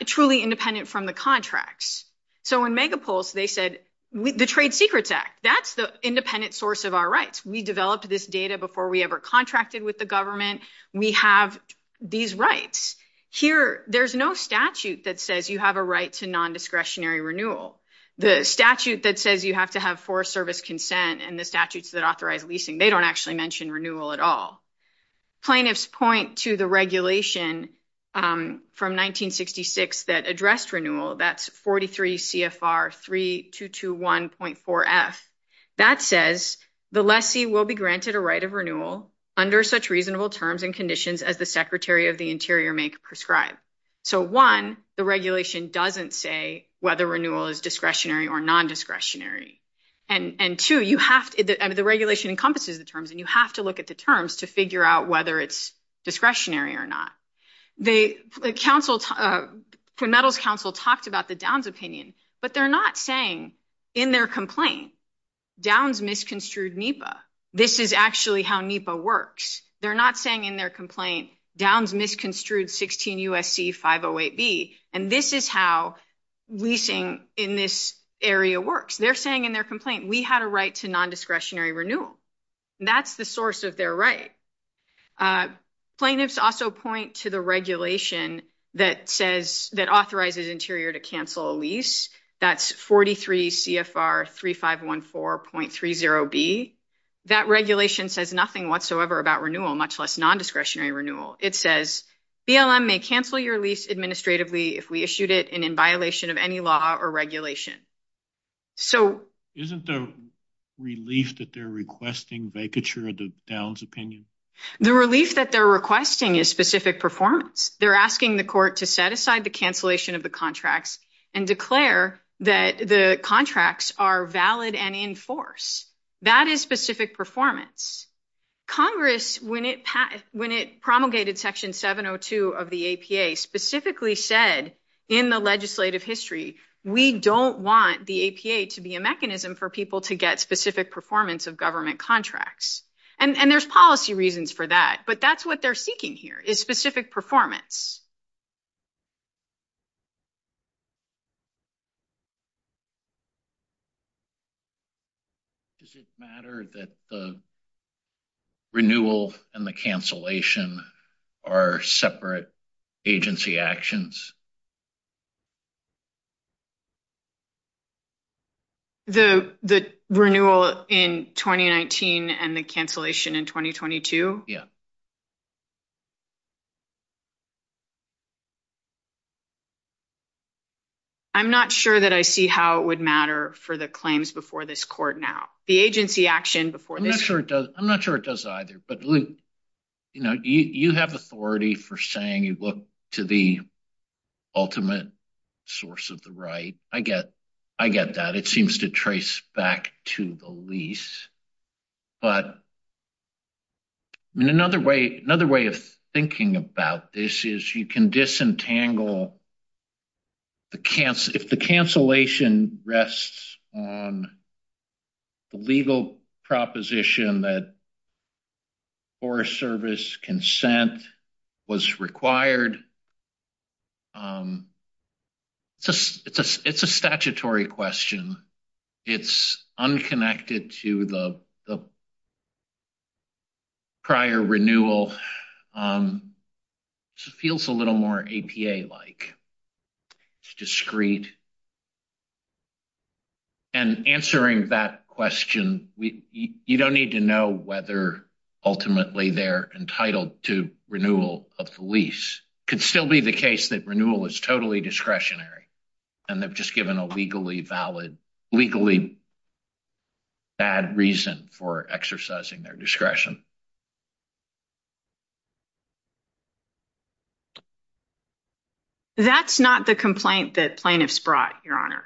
truly independent from the contracts. So in Megapulse, they said, the Trade Secrets Act, that's the independent source of our rights. We developed this data before we ever contracted with the government. We have these rights. Here, there's no statute that says you have a right to non-discretionary renewal. The statute that says you have to have Forest Service consent and the statutes that authorize leasing, they don't actually mention renewal at all. Plaintiffs point to the regulation from 1966 that addressed renewal. That's 43 CFR 3221.4F. That says, the lessee will be granted a right of renewal under such reasonable terms and conditions as the Secretary of the Interior may prescribe. So one, the regulation doesn't say whether renewal is discretionary or non-discretionary. And two, the regulation encompasses the terms and you have to look at the terms to figure out whether it's discretionary or not. The metals council talked about the Downs opinion, but they're not saying in their complaint, Downs misconstrued NEPA. This is actually how NEPA works. They're not saying in their complaint, Downs misconstrued 16 USC 508B. And this is how leasing in this area works. They're saying in their complaint, we had a right to non-discretionary renewal. That's the source of their right. Plaintiffs also point to the regulation that says, that authorizes Interior to cancel a lease. That's 43 CFR 3514.30B. That regulation says nothing whatsoever about renewal, much less non-discretionary renewal. It says, BLM may cancel your lease administratively if we issued it and in violation of any law or regulation. So isn't the relief that they're requesting vacature of the Downs opinion? The relief that they're requesting is specific performance. They're asking the court to set aside the cancellation of the contracts and declare that the contracts are valid and in force. That is specific performance. Congress, when it promulgated section 702 of the APA specifically said in the legislative history, we don't want the APA to be a mechanism for people to get specific performance of government contracts. And there's policy reasons for that, but that's what they're seeking here is specific performance. Does it matter that the renewal and the cancellation are separate agency actions? The renewal in 2019 and the cancellation in 2022? Yeah. I'm not sure that I see how it would matter for the claims before this court now, the agency action before this. I'm not sure it does. I'm not sure it does either, but you have authority for saying you look to the ultimate source of the right. I get that. It Another way of thinking about this is you can disentangle the cancellation. If the cancellation rests on the legal proposition that Forest Service consent was required, it's a statutory question. It's unconnected to the prior renewal. It feels a little more APA-like. It's discreet. And answering that question, you don't need to know whether ultimately they're entitled to renewal of the lease. It could still be the case that renewal is totally discretionary and they've just given a legally bad reason for exercising their discretion. That's not the complaint that plaintiffs brought, Your Honor.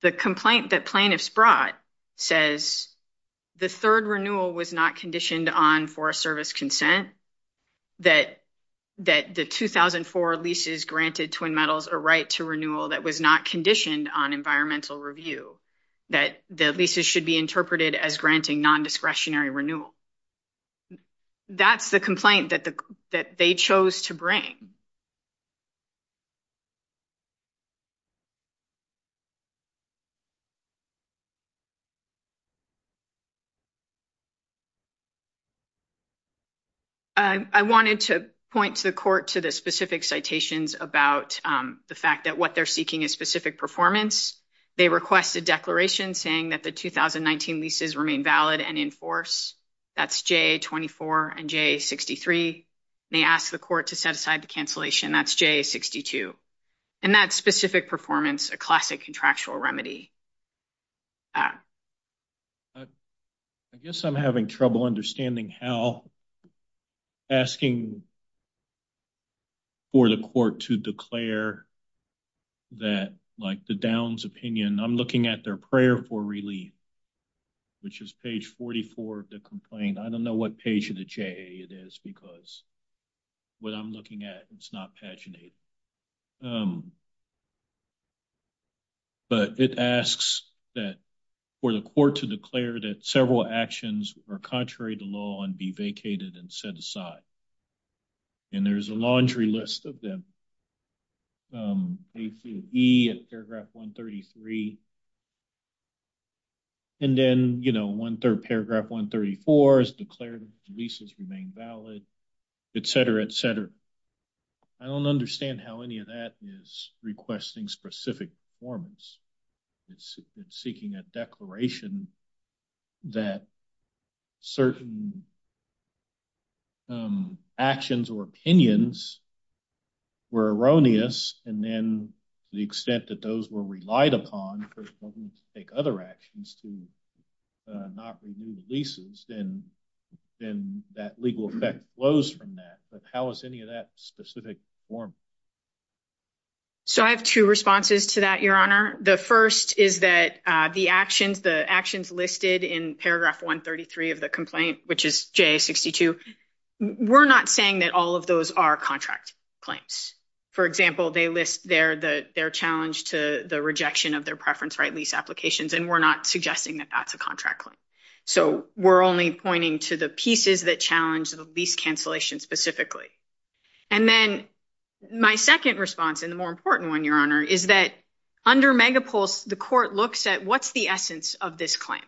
The complaint that plaintiffs brought says the third renewal was not conditioned on Forest Service consent, that the 2004 leases granted Twin Metals a right to renewal that was not conditioned on environmental review, that the leases should be interpreted as granting non-discretionary renewal. That's the complaint that they chose to bring. I wanted to point to the court to the specific citations about the fact that what they're seeking is specific performance. They request a declaration saying that the 2019 leases remain valid and in force. That's JA-24 and JA-63. They ask the court to set aside the cancellation. That's JA-62. And that specific performance of the leases is not conditional on the renewal of the leases. Classic contractual remedy. I guess I'm having trouble understanding how asking for the court to declare that, like the Downs opinion, I'm looking at their prayer for relief, which is page 44 of the complaint. I don't know what page of the JA it is because what I'm looking at, it's not paginated. But it asks that for the court to declare that several actions are contrary to law and be vacated and set aside. And there's a laundry list of them. A to E at paragraph 133. And then, you know, one third paragraph 134 is declared leases remain valid, et cetera, et cetera. I don't understand how any of that is requesting specific performance. It's seeking a declaration that certain actions or opinions were erroneous. And then to the extent that those were relied upon to take other actions to not renew the leases, then that legal effect flows from that. But how is any of that specific performance? So I have two responses to that, Your Honor. The first is that the actions listed in paragraph 133 of the complaint, which is JA-62, we're not saying that all of those are contract claims. For example, they list their challenge to the rejection of their preference-right lease applications, and we're not suggesting that that's a contract claim. So we're only pointing to the pieces that challenge the lease cancellation specifically. And then my second response, and the more important one, Your Honor, is that under Megapulse, the court looks at what's the essence of this claim?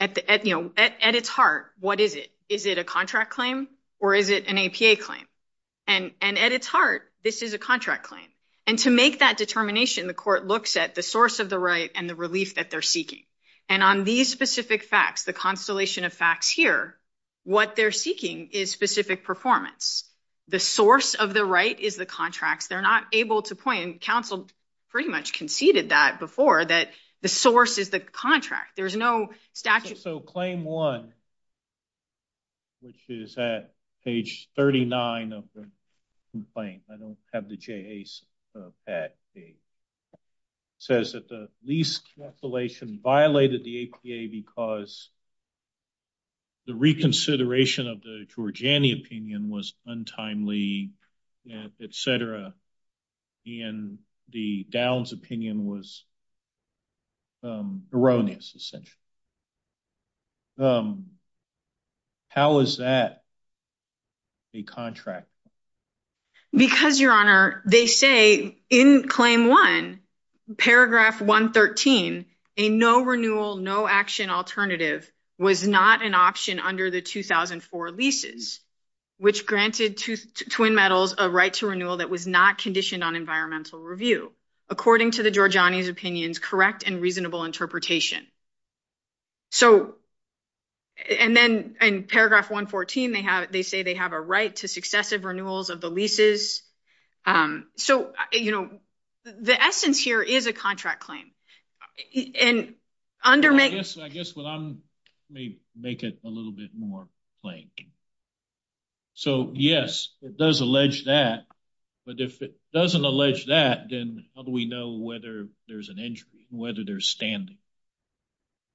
At its heart, what is it? Is it a contract claim or is it an APA claim? And at its heart, this is a contract claim. And to make that determination, the court looks at the source of the right and the relief that they're seeking. And on these specific facts, the constellation of facts here, what they're seeking is specific performance. The source of the right is the contracts. They're not able to point, and counsel pretty much conceded that that the source is the contract. There's no statute. So claim one, which is at page 39 of the complaint, I don't have the JAs of that. It says that the lease cancellation violated the APA because the reconsideration of the Georgiani opinion was untimely, etc. And the Downs opinion was erroneous, essentially. How is that a contract? Because, Your Honor, they say in claim one, paragraph 113, a no renewal, no action alternative was not an option under the 2004 leases, which granted Twin Metals a right to renewal that was not conditioned on environmental review, according to the Georgiani's opinions, correct and reasonable interpretation. And then in paragraph 114, they say they have a right to successive renewals of leases. So, you know, the essence here is a contract claim. I guess I may make it a little bit more plain. So, yes, it does allege that. But if it doesn't allege that, then how do we know whether there's an injury, whether they're standing?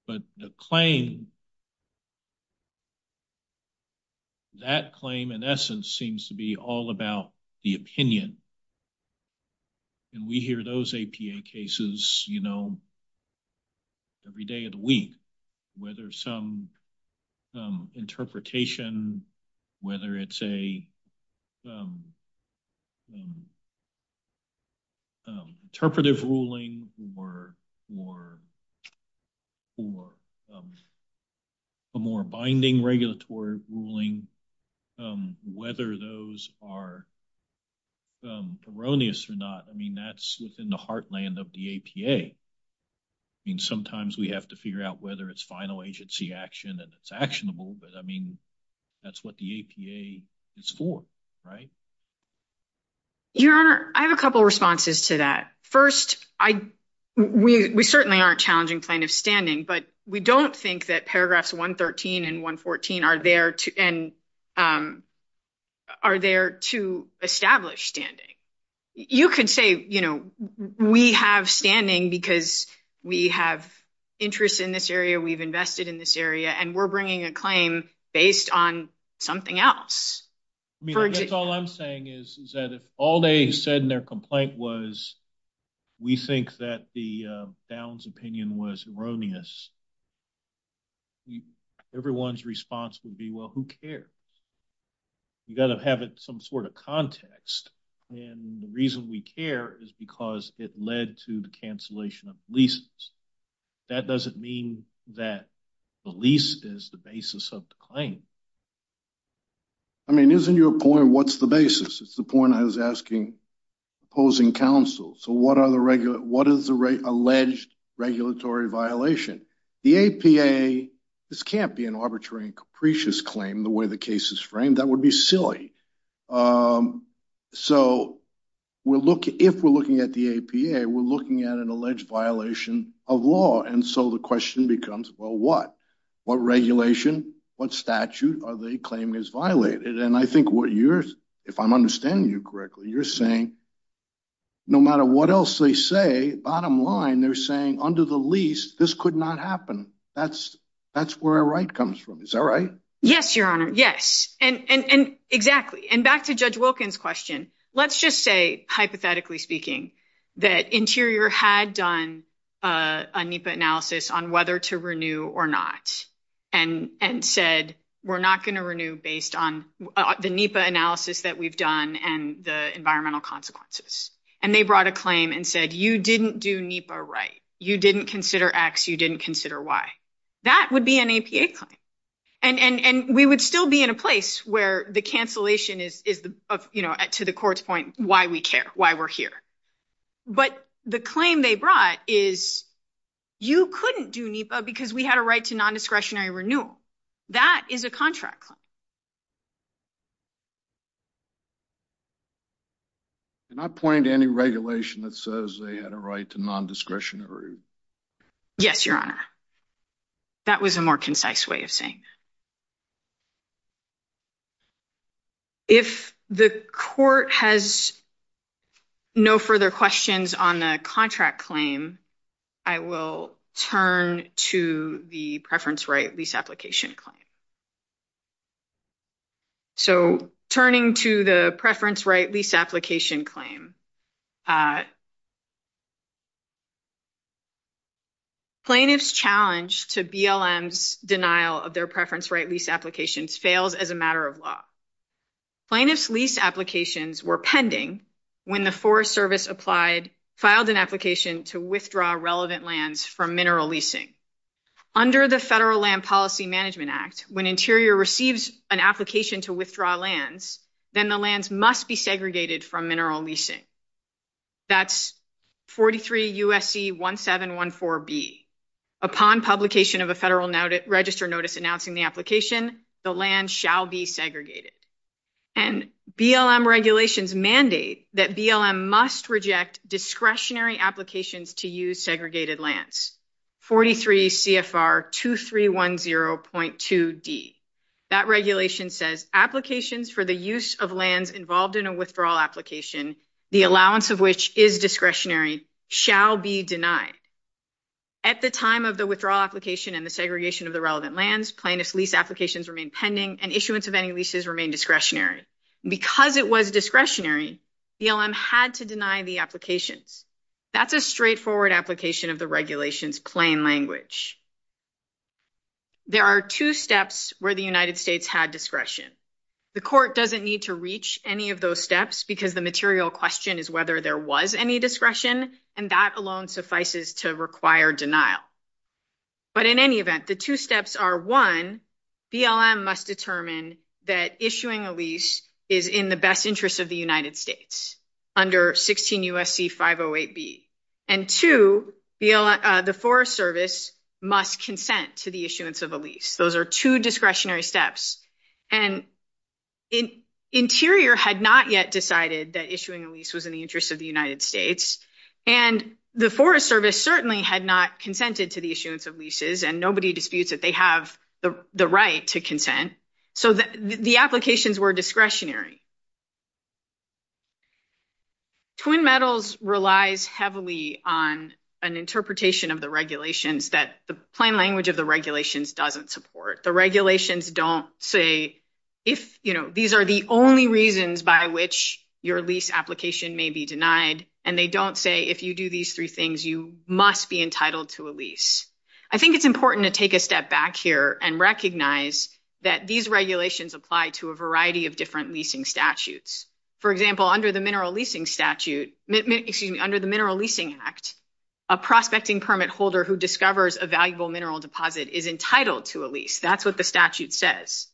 But the claim, that claim in essence seems to be all about the opinion. And we hear those APA cases, you know, every day of the week, whether some interpretation, whether it's a interpretive ruling or a more binding regulatory ruling, whether those are erroneous or not. I mean, that's within the heartland of the APA. I mean, sometimes we have to figure out whether it's final agency action and it's actionable, but I mean, that's what the APA is for, right? Your Honor, I have a couple responses to that. First, we certainly aren't challenging plaintiff's standing, but we don't think that paragraphs 113 and 114 are there to establish standing. You could say, you know, we have standing because we have interest in this area, we've invested in this area, and we're bringing a claim based on something else. I mean, that's all I'm saying is that if all they said in their response would be, well, who cares? You got to have some sort of context. And the reason we care is because it led to the cancellation of leases. That doesn't mean that the lease is the basis of the claim. I mean, isn't your point, what's the basis? It's the point I was asking opposing counsel. So what is the alleged regulatory violation? The APA, this can't be an arbitrary and capricious claim the way the case is framed. That would be silly. So if we're looking at the APA, we're looking at an alleged violation of law. And so the question becomes, well, what? What regulation, what statute are they claiming is violated? And I think what you're, if I'm understanding you correctly, you're saying no matter what else they say, bottom line, they're saying under the lease, this could not happen. That's where a right comes from. Is that right? Yes, Your Honor. Yes. And exactly. And back to Judge Wilkins' question. Let's just say, hypothetically speaking, that Interior had done a NEPA analysis on whether to renew or not and said, we're not going to renew based on the NEPA analysis that we've done and the environmental consequences. And they brought a claim and said, you didn't do NEPA right. You didn't consider X. You didn't consider Y. That would be an APA claim. And we would still be in a place where the cancellation is, to the court's point, why we care, why we're here. But the claim they brought is, you couldn't do NEPA because we had a right to non-discretionary renewal. That is a contract claim. Can I point to any regulation that says they had a right to non-discretionary? Yes, Your Honor. That was a more concise way of saying. If the court has no further questions on the contract claim, I will turn to the preference right lease application claim. So, turning to the preference right lease application claim, plaintiff's challenge to BLM's denial of their preference right lease applications fails as a matter of law. Plaintiff's lease applications were pending when the Forest Service filed an application to withdraw relevant lands from mineral leasing. Under the Federal Land Policy Management Act, when Interior receives an application to withdraw lands, then the lands must be segregated from mineral leasing. That's 43 U.S.C. 1714B. Upon publication of a Federal Register notice announcing the application, the land shall be segregated. And BLM regulations mandate that BLM must reject discretionary applications to use segregated lands, 43 CFR 2310.2D. That regulation says applications for the use of lands involved in a withdrawal application, the allowance of which is discretionary, shall be denied. At the time of the withdrawal application and the segregation of the relevant lands, plaintiff's lease applications remain pending and issuance of any leases remain discretionary. Because it was discretionary, BLM had to deny the applications. That's a straightforward application of the regulation's plain language. There are two steps where the United States had discretion. The court doesn't need to reach any of those steps because the material question is whether there was any discretion, and that alone suffices to require denial. But in any event, the two steps are, one, BLM must determine that issuing a lease is in the best interest of the United States under 16 U.S.C. 508B. And two, the Forest Service must consent to the issuance of a lease. Those are two discretionary steps. And Interior had not yet decided that issuing a lease was in the interest of the United States. And the Forest Service certainly had not consented to the issuance of leases, and nobody disputes that they have the right to consent. So the applications were discretionary. Twin Metals relies heavily on an interpretation of the regulations that the plain language of the regulations doesn't support. The regulations don't say if, you know, these are the only reasons by which your lease application may be denied, and they don't say if you do these three things, you must be entitled to a lease. I think it's important to take a step back here and recognize that these regulations apply to a variety of different leasing statutes. For example, under the Mineral Leasing Statute, excuse me, under the Mineral Leasing Act, a prospecting permit holder who discovers a valuable mineral deposit is entitled to a lease. That's what the statute says.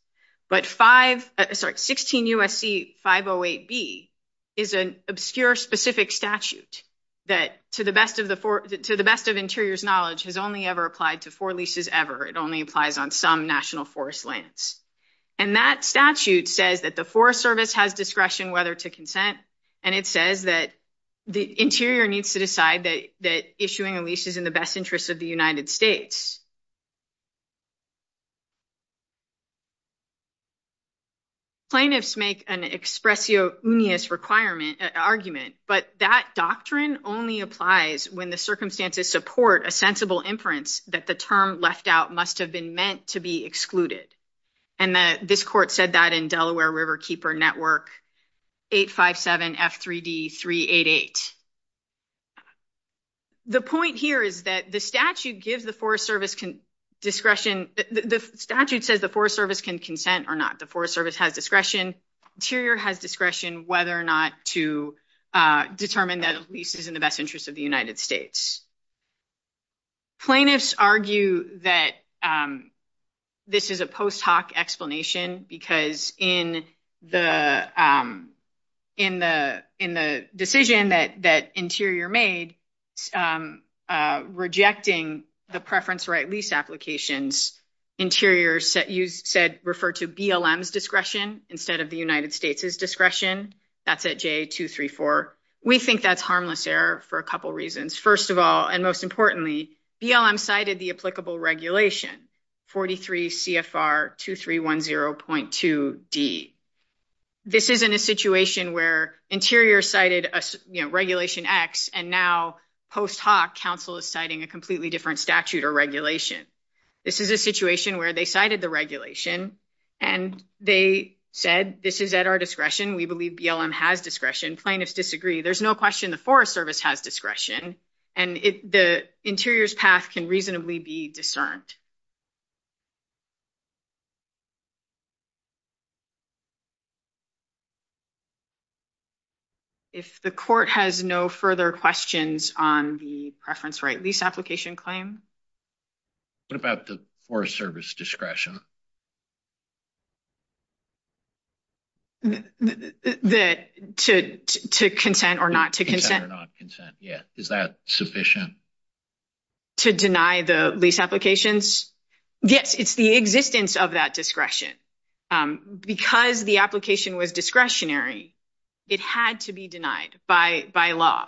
But 16 U.S.C. 508B is an obscure specific statute that, to the best of Interior's knowledge, has only ever applied to four leases ever. It only applies on national forest lands. And that statute says that the Forest Service has discretion whether to consent, and it says that the Interior needs to decide that issuing a lease is in the best interest of the United States. Plaintiffs make an expressionist argument, but that doctrine only applies when the circumstances support a sensible inference that the term left out must have been meant to be excluded. And this court said that in Delaware River Keeper Network 857F3D388. The point here is that the statute gives the Forest Service discretion. The statute says the Forest Service can consent or not. The Forest Service has discretion. Interior has discretion whether or not to determine that a lease is in the best interest of the United States. Plaintiffs argue that this is a post hoc explanation because in the decision that Interior made rejecting the preference right lease applications, Interior said refer to BLM's discretion instead of the United States' discretion. That's at J234. We think that's and most importantly BLM cited the applicable regulation 43 CFR 2310.2D. This isn't a situation where Interior cited regulation X and now post hoc counsel is citing a completely different statute or regulation. This is a situation where they cited the regulation and they said this is at our discretion. We believe BLM has discretion. Plaintiffs disagree. There's no question the Forest Service has discretion and the Interior's path can reasonably be discerned. If the court has no further questions on the preference right lease application claim. What about the Forest Service discretion? To consent or not to consent. Is that sufficient? To deny the lease applications? Yes, it's the existence of that discretion. Because the application was discretionary, it had to be denied by law.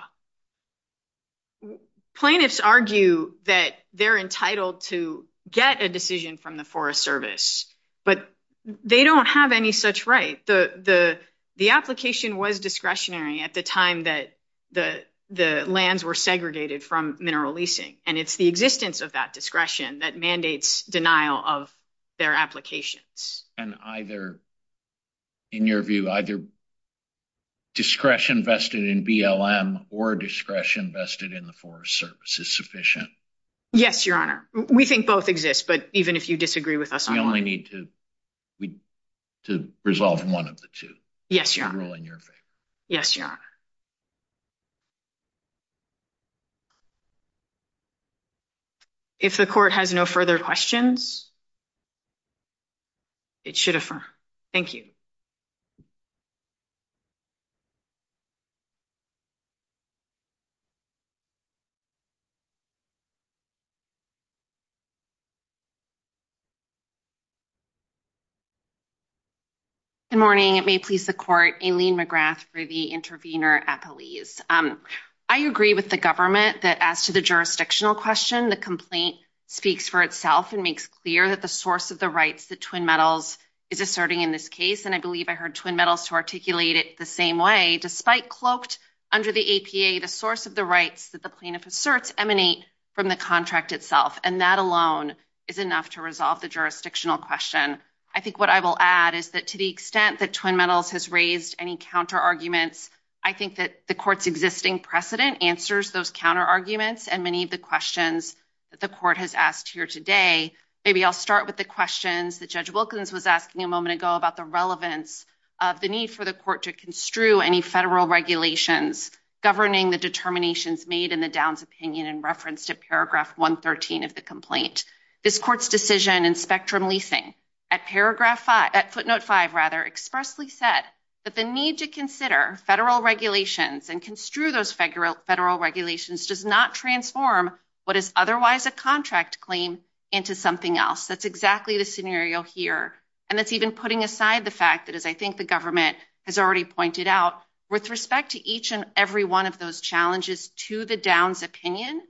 Plaintiffs argue that they're entitled to get a decision from the Forest Service but they don't have any such right. The application was discretionary at the time that the lands were segregated from mineral leasing and it's the existence of that discretion that mandates denial of their applications. And either, in your view, either discretion vested in BLM or discretion vested in the Forest Service is sufficient? Yes, Your Honor. We think both exist, but even if you disagree with us, we only need to resolve one of the two. Yes, Your Honor. Yes, Your Honor. If the court has no further questions, it should affirm. Thank you. Good morning. It may please the court. Aileen McGrath for the intervener at the lease. I agree with the government that as to the jurisdictional question, the complaint speaks for itself and makes clear that the source of the rights that Twin Metals is asserting in this case. And I believe I heard Twin Metals to articulate it the same way. Despite cloaked under the APA, the source of the rights that the plaintiff asserts emanate from the contract itself, and that alone is enough to resolve the jurisdictional question. I think what I will add is that to the extent that Twin Metals has raised any counter arguments, I think that the court's existing precedent answers those counter arguments and many of the questions that the court has asked here today. Maybe I'll start with the questions that Judge Wilkins was asking a moment ago about the relevance of the need for the court to construe any federal regulations governing the determinations made in the Downs opinion in reference to paragraph 113 of the complaint. This court's decision in spectrum leasing at footnote five expressly said that the need to consider federal regulations and construe those federal regulations does not transform what is otherwise a contract claim into something else. That's exactly the scenario here. And that's even putting aside the fact that as I think the government has already pointed out, with respect to each and every one of those challenges to the Downs opinion,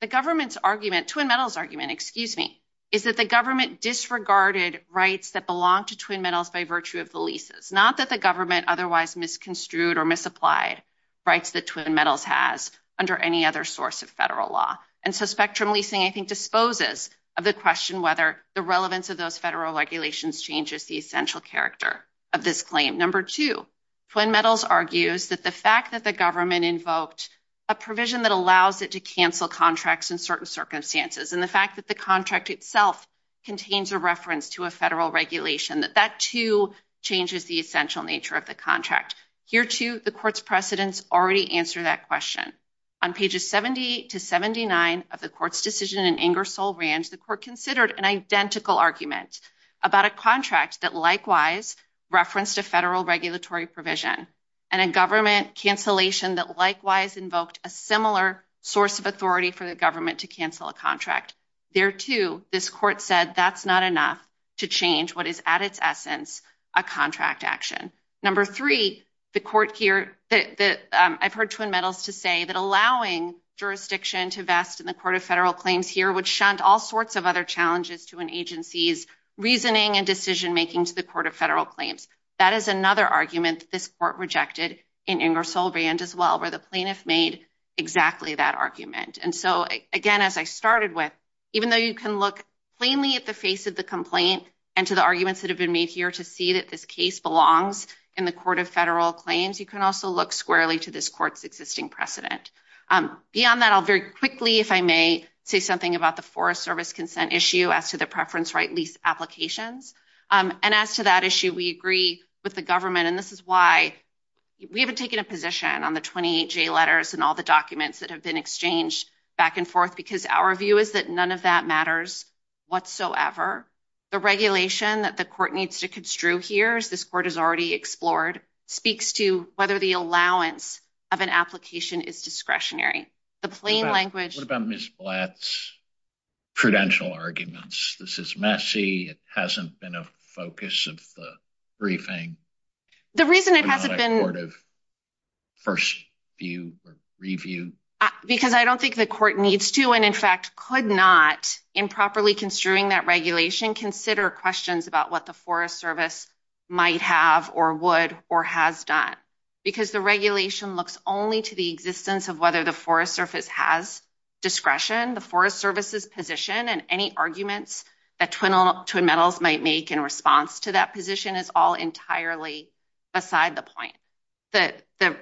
the government's argument, Twin Metals' argument, excuse me, is that the government disregarded rights that belong to Twin Metals by virtue of the leases, not that the government otherwise misconstrued or misapplied rights that Twin Metals has under any other source of federal law. And so spectrum leasing, I think, disposes of the question whether the relevance of those regulations changes the essential character of this claim. Number two, Twin Metals argues that the fact that the government invoked a provision that allows it to cancel contracts in certain circumstances and the fact that the contract itself contains a reference to a federal regulation, that that too changes the essential nature of the contract. Here too, the court's precedents already answer that question. On pages 70 to 79 of the court's decision in Ingersoll Ranch, the court considered an identical argument about a contract that likewise referenced a federal regulatory provision and a government cancellation that likewise invoked a similar source of authority for the government to cancel a contract. There too, this court said that's not enough to change what is at its essence a contract action. Number three, the court here, I've heard Twin Metals to say that allowing jurisdiction to vest in the court of federal claims here would all sorts of other challenges to an agency's reasoning and decision-making to the court of federal claims. That is another argument this court rejected in Ingersoll Ranch as well, where the plaintiff made exactly that argument. And so again, as I started with, even though you can look plainly at the face of the complaint and to the arguments that have been made here to see that this case belongs in the court of federal claims, you can also look squarely to this court's existing precedent. Beyond that, I'll very quickly, if I may, say something about the Forest Service consent issue as to the preference right lease applications. And as to that issue, we agree with the government, and this is why we haven't taken a position on the 28J letters and all the documents that have been exchanged back and forth, because our view is that none of that matters whatsoever. The regulation that the court needs to construe here, as this court has already explored, speaks to whether the allowance of an application is discretionary. The plain language... What about Ms. Blatt's prudential arguments? This is messy. It hasn't been a focus of the briefing. The reason it hasn't been... It's not a court of first view or review. Because I don't think the court needs to, and in fact could not, in properly construing that consider questions about what the Forest Service might have or would or has done. Because the regulation looks only to the existence of whether the Forest Service has discretion. The Forest Service's position and any arguments that Twin Metals might make in response to that position is all entirely beside the point. The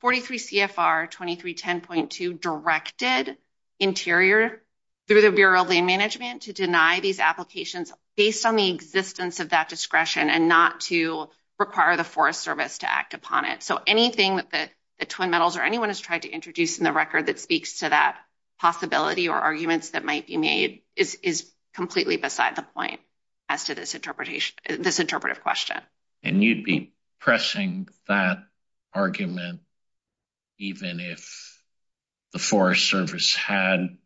43 CFR 2310.2 directed Interior, through the Bureau of Land Management, to deny these applications based on the existence of that discretion and not to require the Forest Service to act upon it. So anything that the Twin Metals or anyone has tried to introduce in the record that speaks to that possibility or arguments that might be made is completely beside the point as to this interpretation, this interpretive question. And you'd be pressing that argument even if the Forest Service had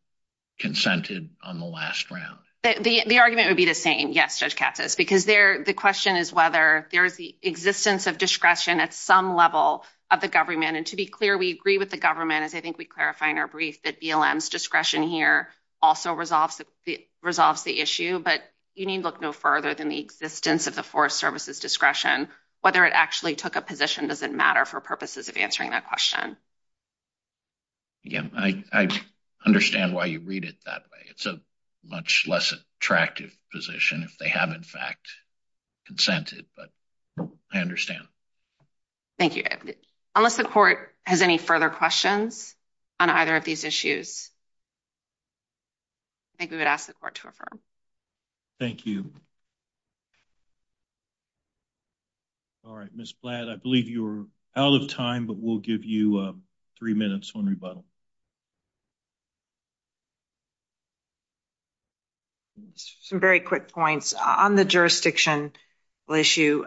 consented on the last round? The argument would be the same, yes, Judge Katsas, because the question is whether there is the existence of discretion at some level of the government. And to be clear, we agree with the government, as I think we clarify in our brief, that BLM's discretion here also resolves the issue. But you need look no further than the existence of the Forest Service's discretion. Whether it actually took a position doesn't matter for purposes of answering that question. Yeah, I understand why you read it that way. It's a much less attractive position if they have in fact consented, but I understand. Thank you. Unless the Court has any further questions on either of these issues, I think we would ask the Court to affirm. Thank you. All right, Ms. Blatt, I believe you're out of time, but we'll give you three minutes on rebuttal. Some very quick points on the jurisdictional issue.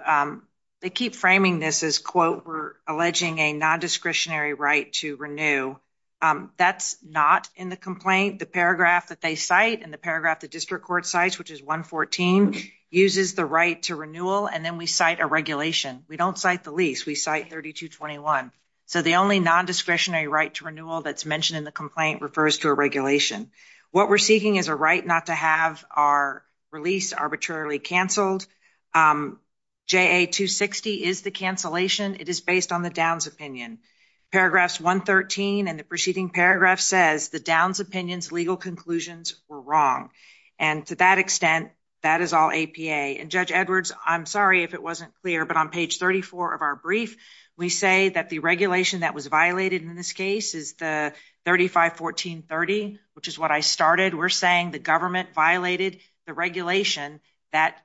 They keep framing this as, quote, we're alleging a non-discretionary right to renew. That's not in the complaint. The paragraph that they cite in the paragraph the District Court cites, which is 114, uses the right to renewal. And then we cite a regulation. We don't cite the lease. We cite 3221. So the only non-discretionary right to renewal that's mentioned in the complaint refers to a regulation. What we're seeking is a right not to have our release arbitrarily canceled. JA-260 is the cancellation. It is based on the Downs opinion. Paragraphs 113 and the preceding paragraph says the Downs opinion's legal conclusions were wrong. And to that extent, that is all APA. And Judge Edwards, I'm sorry if it wasn't clear, but on page 34 of our brief, we say that the regulation that was violated in this case is the 351430, which is what I started. We're saying the government violated the regulation that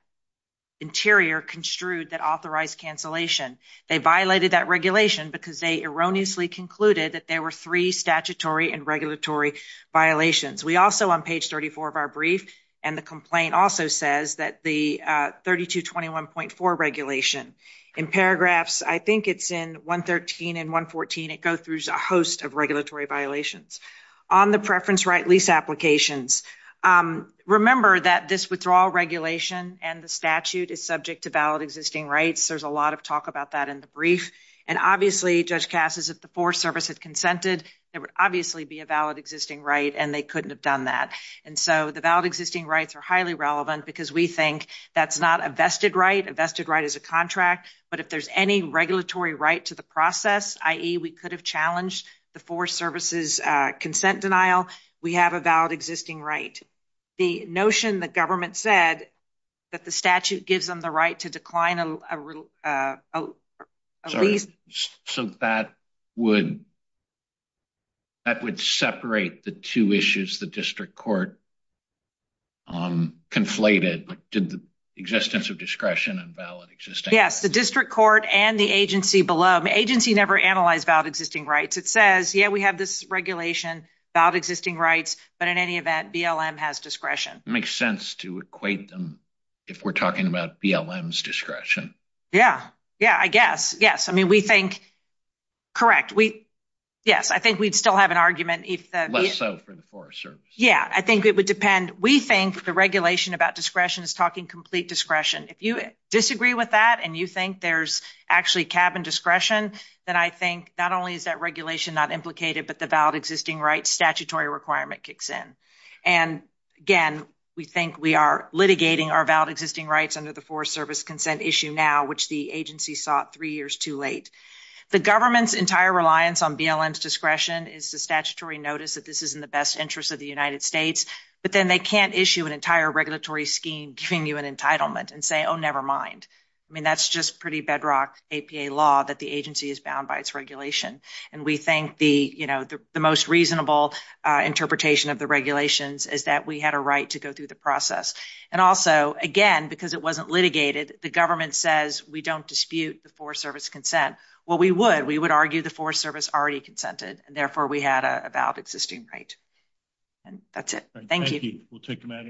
Interior construed that authorized cancellation. They violated that regulation because they erroneously concluded that there were three statutory and regulatory violations. We also, on page 34 of our brief, and the complaint also says that the 3221.4 regulation in paragraphs, I think it's in 113 and 114, it goes through a host of regulatory violations. On the preference right lease applications, remember that this withdrawal regulation and the statute is subject to valid existing rights. There's a lot of talk about that in the brief. And obviously, Judge Casas, if the Forest Service had consented, it would obviously be a valid existing right, and they couldn't have done that. And so the valid existing rights are highly relevant because we think that's not a vested right. A vested right is a contract. But if there's any regulatory right to the process, i.e. we could have challenged the Forest Service's consent denial, we have a valid existing right. The notion the government said that the statute gives them right to decline a lease. So that would separate the two issues the district court conflated. Did the existence of discretion and valid existing rights? Yes, the district court and the agency below. The agency never analyzed valid existing rights. It says, yeah, we have this regulation, valid existing rights, but in any event, BLM has discretion. Makes sense to equate if we're talking about BLM's discretion. Yeah, yeah, I guess. Yes, I mean, we think, correct. Yes, I think we'd still have an argument. Less so for the Forest Service. Yeah, I think it would depend. We think the regulation about discretion is talking complete discretion. If you disagree with that and you think there's actually cabin discretion, then I think not only is that regulation not implicated, but the valid existing rights kicks in. And again, we think we are litigating our valid existing rights under the Forest Service consent issue now, which the agency sought three years too late. The government's entire reliance on BLM's discretion is the statutory notice that this is in the best interest of the United States, but then they can't issue an entire regulatory scheme giving you an entitlement and say, oh, never mind. I mean, that's just pretty bedrock APA law that the agency is bound by its regulation. And we think the, you know, the most reasonable interpretation of the regulations is that we had a right to go through the process. And also, again, because it wasn't litigated, the government says we don't dispute the Forest Service consent. Well, we would. We would argue the Forest Service already consented, and therefore we had a valid existing right. And that's it. Thank you. Thank you. We'll take the matter into advisement.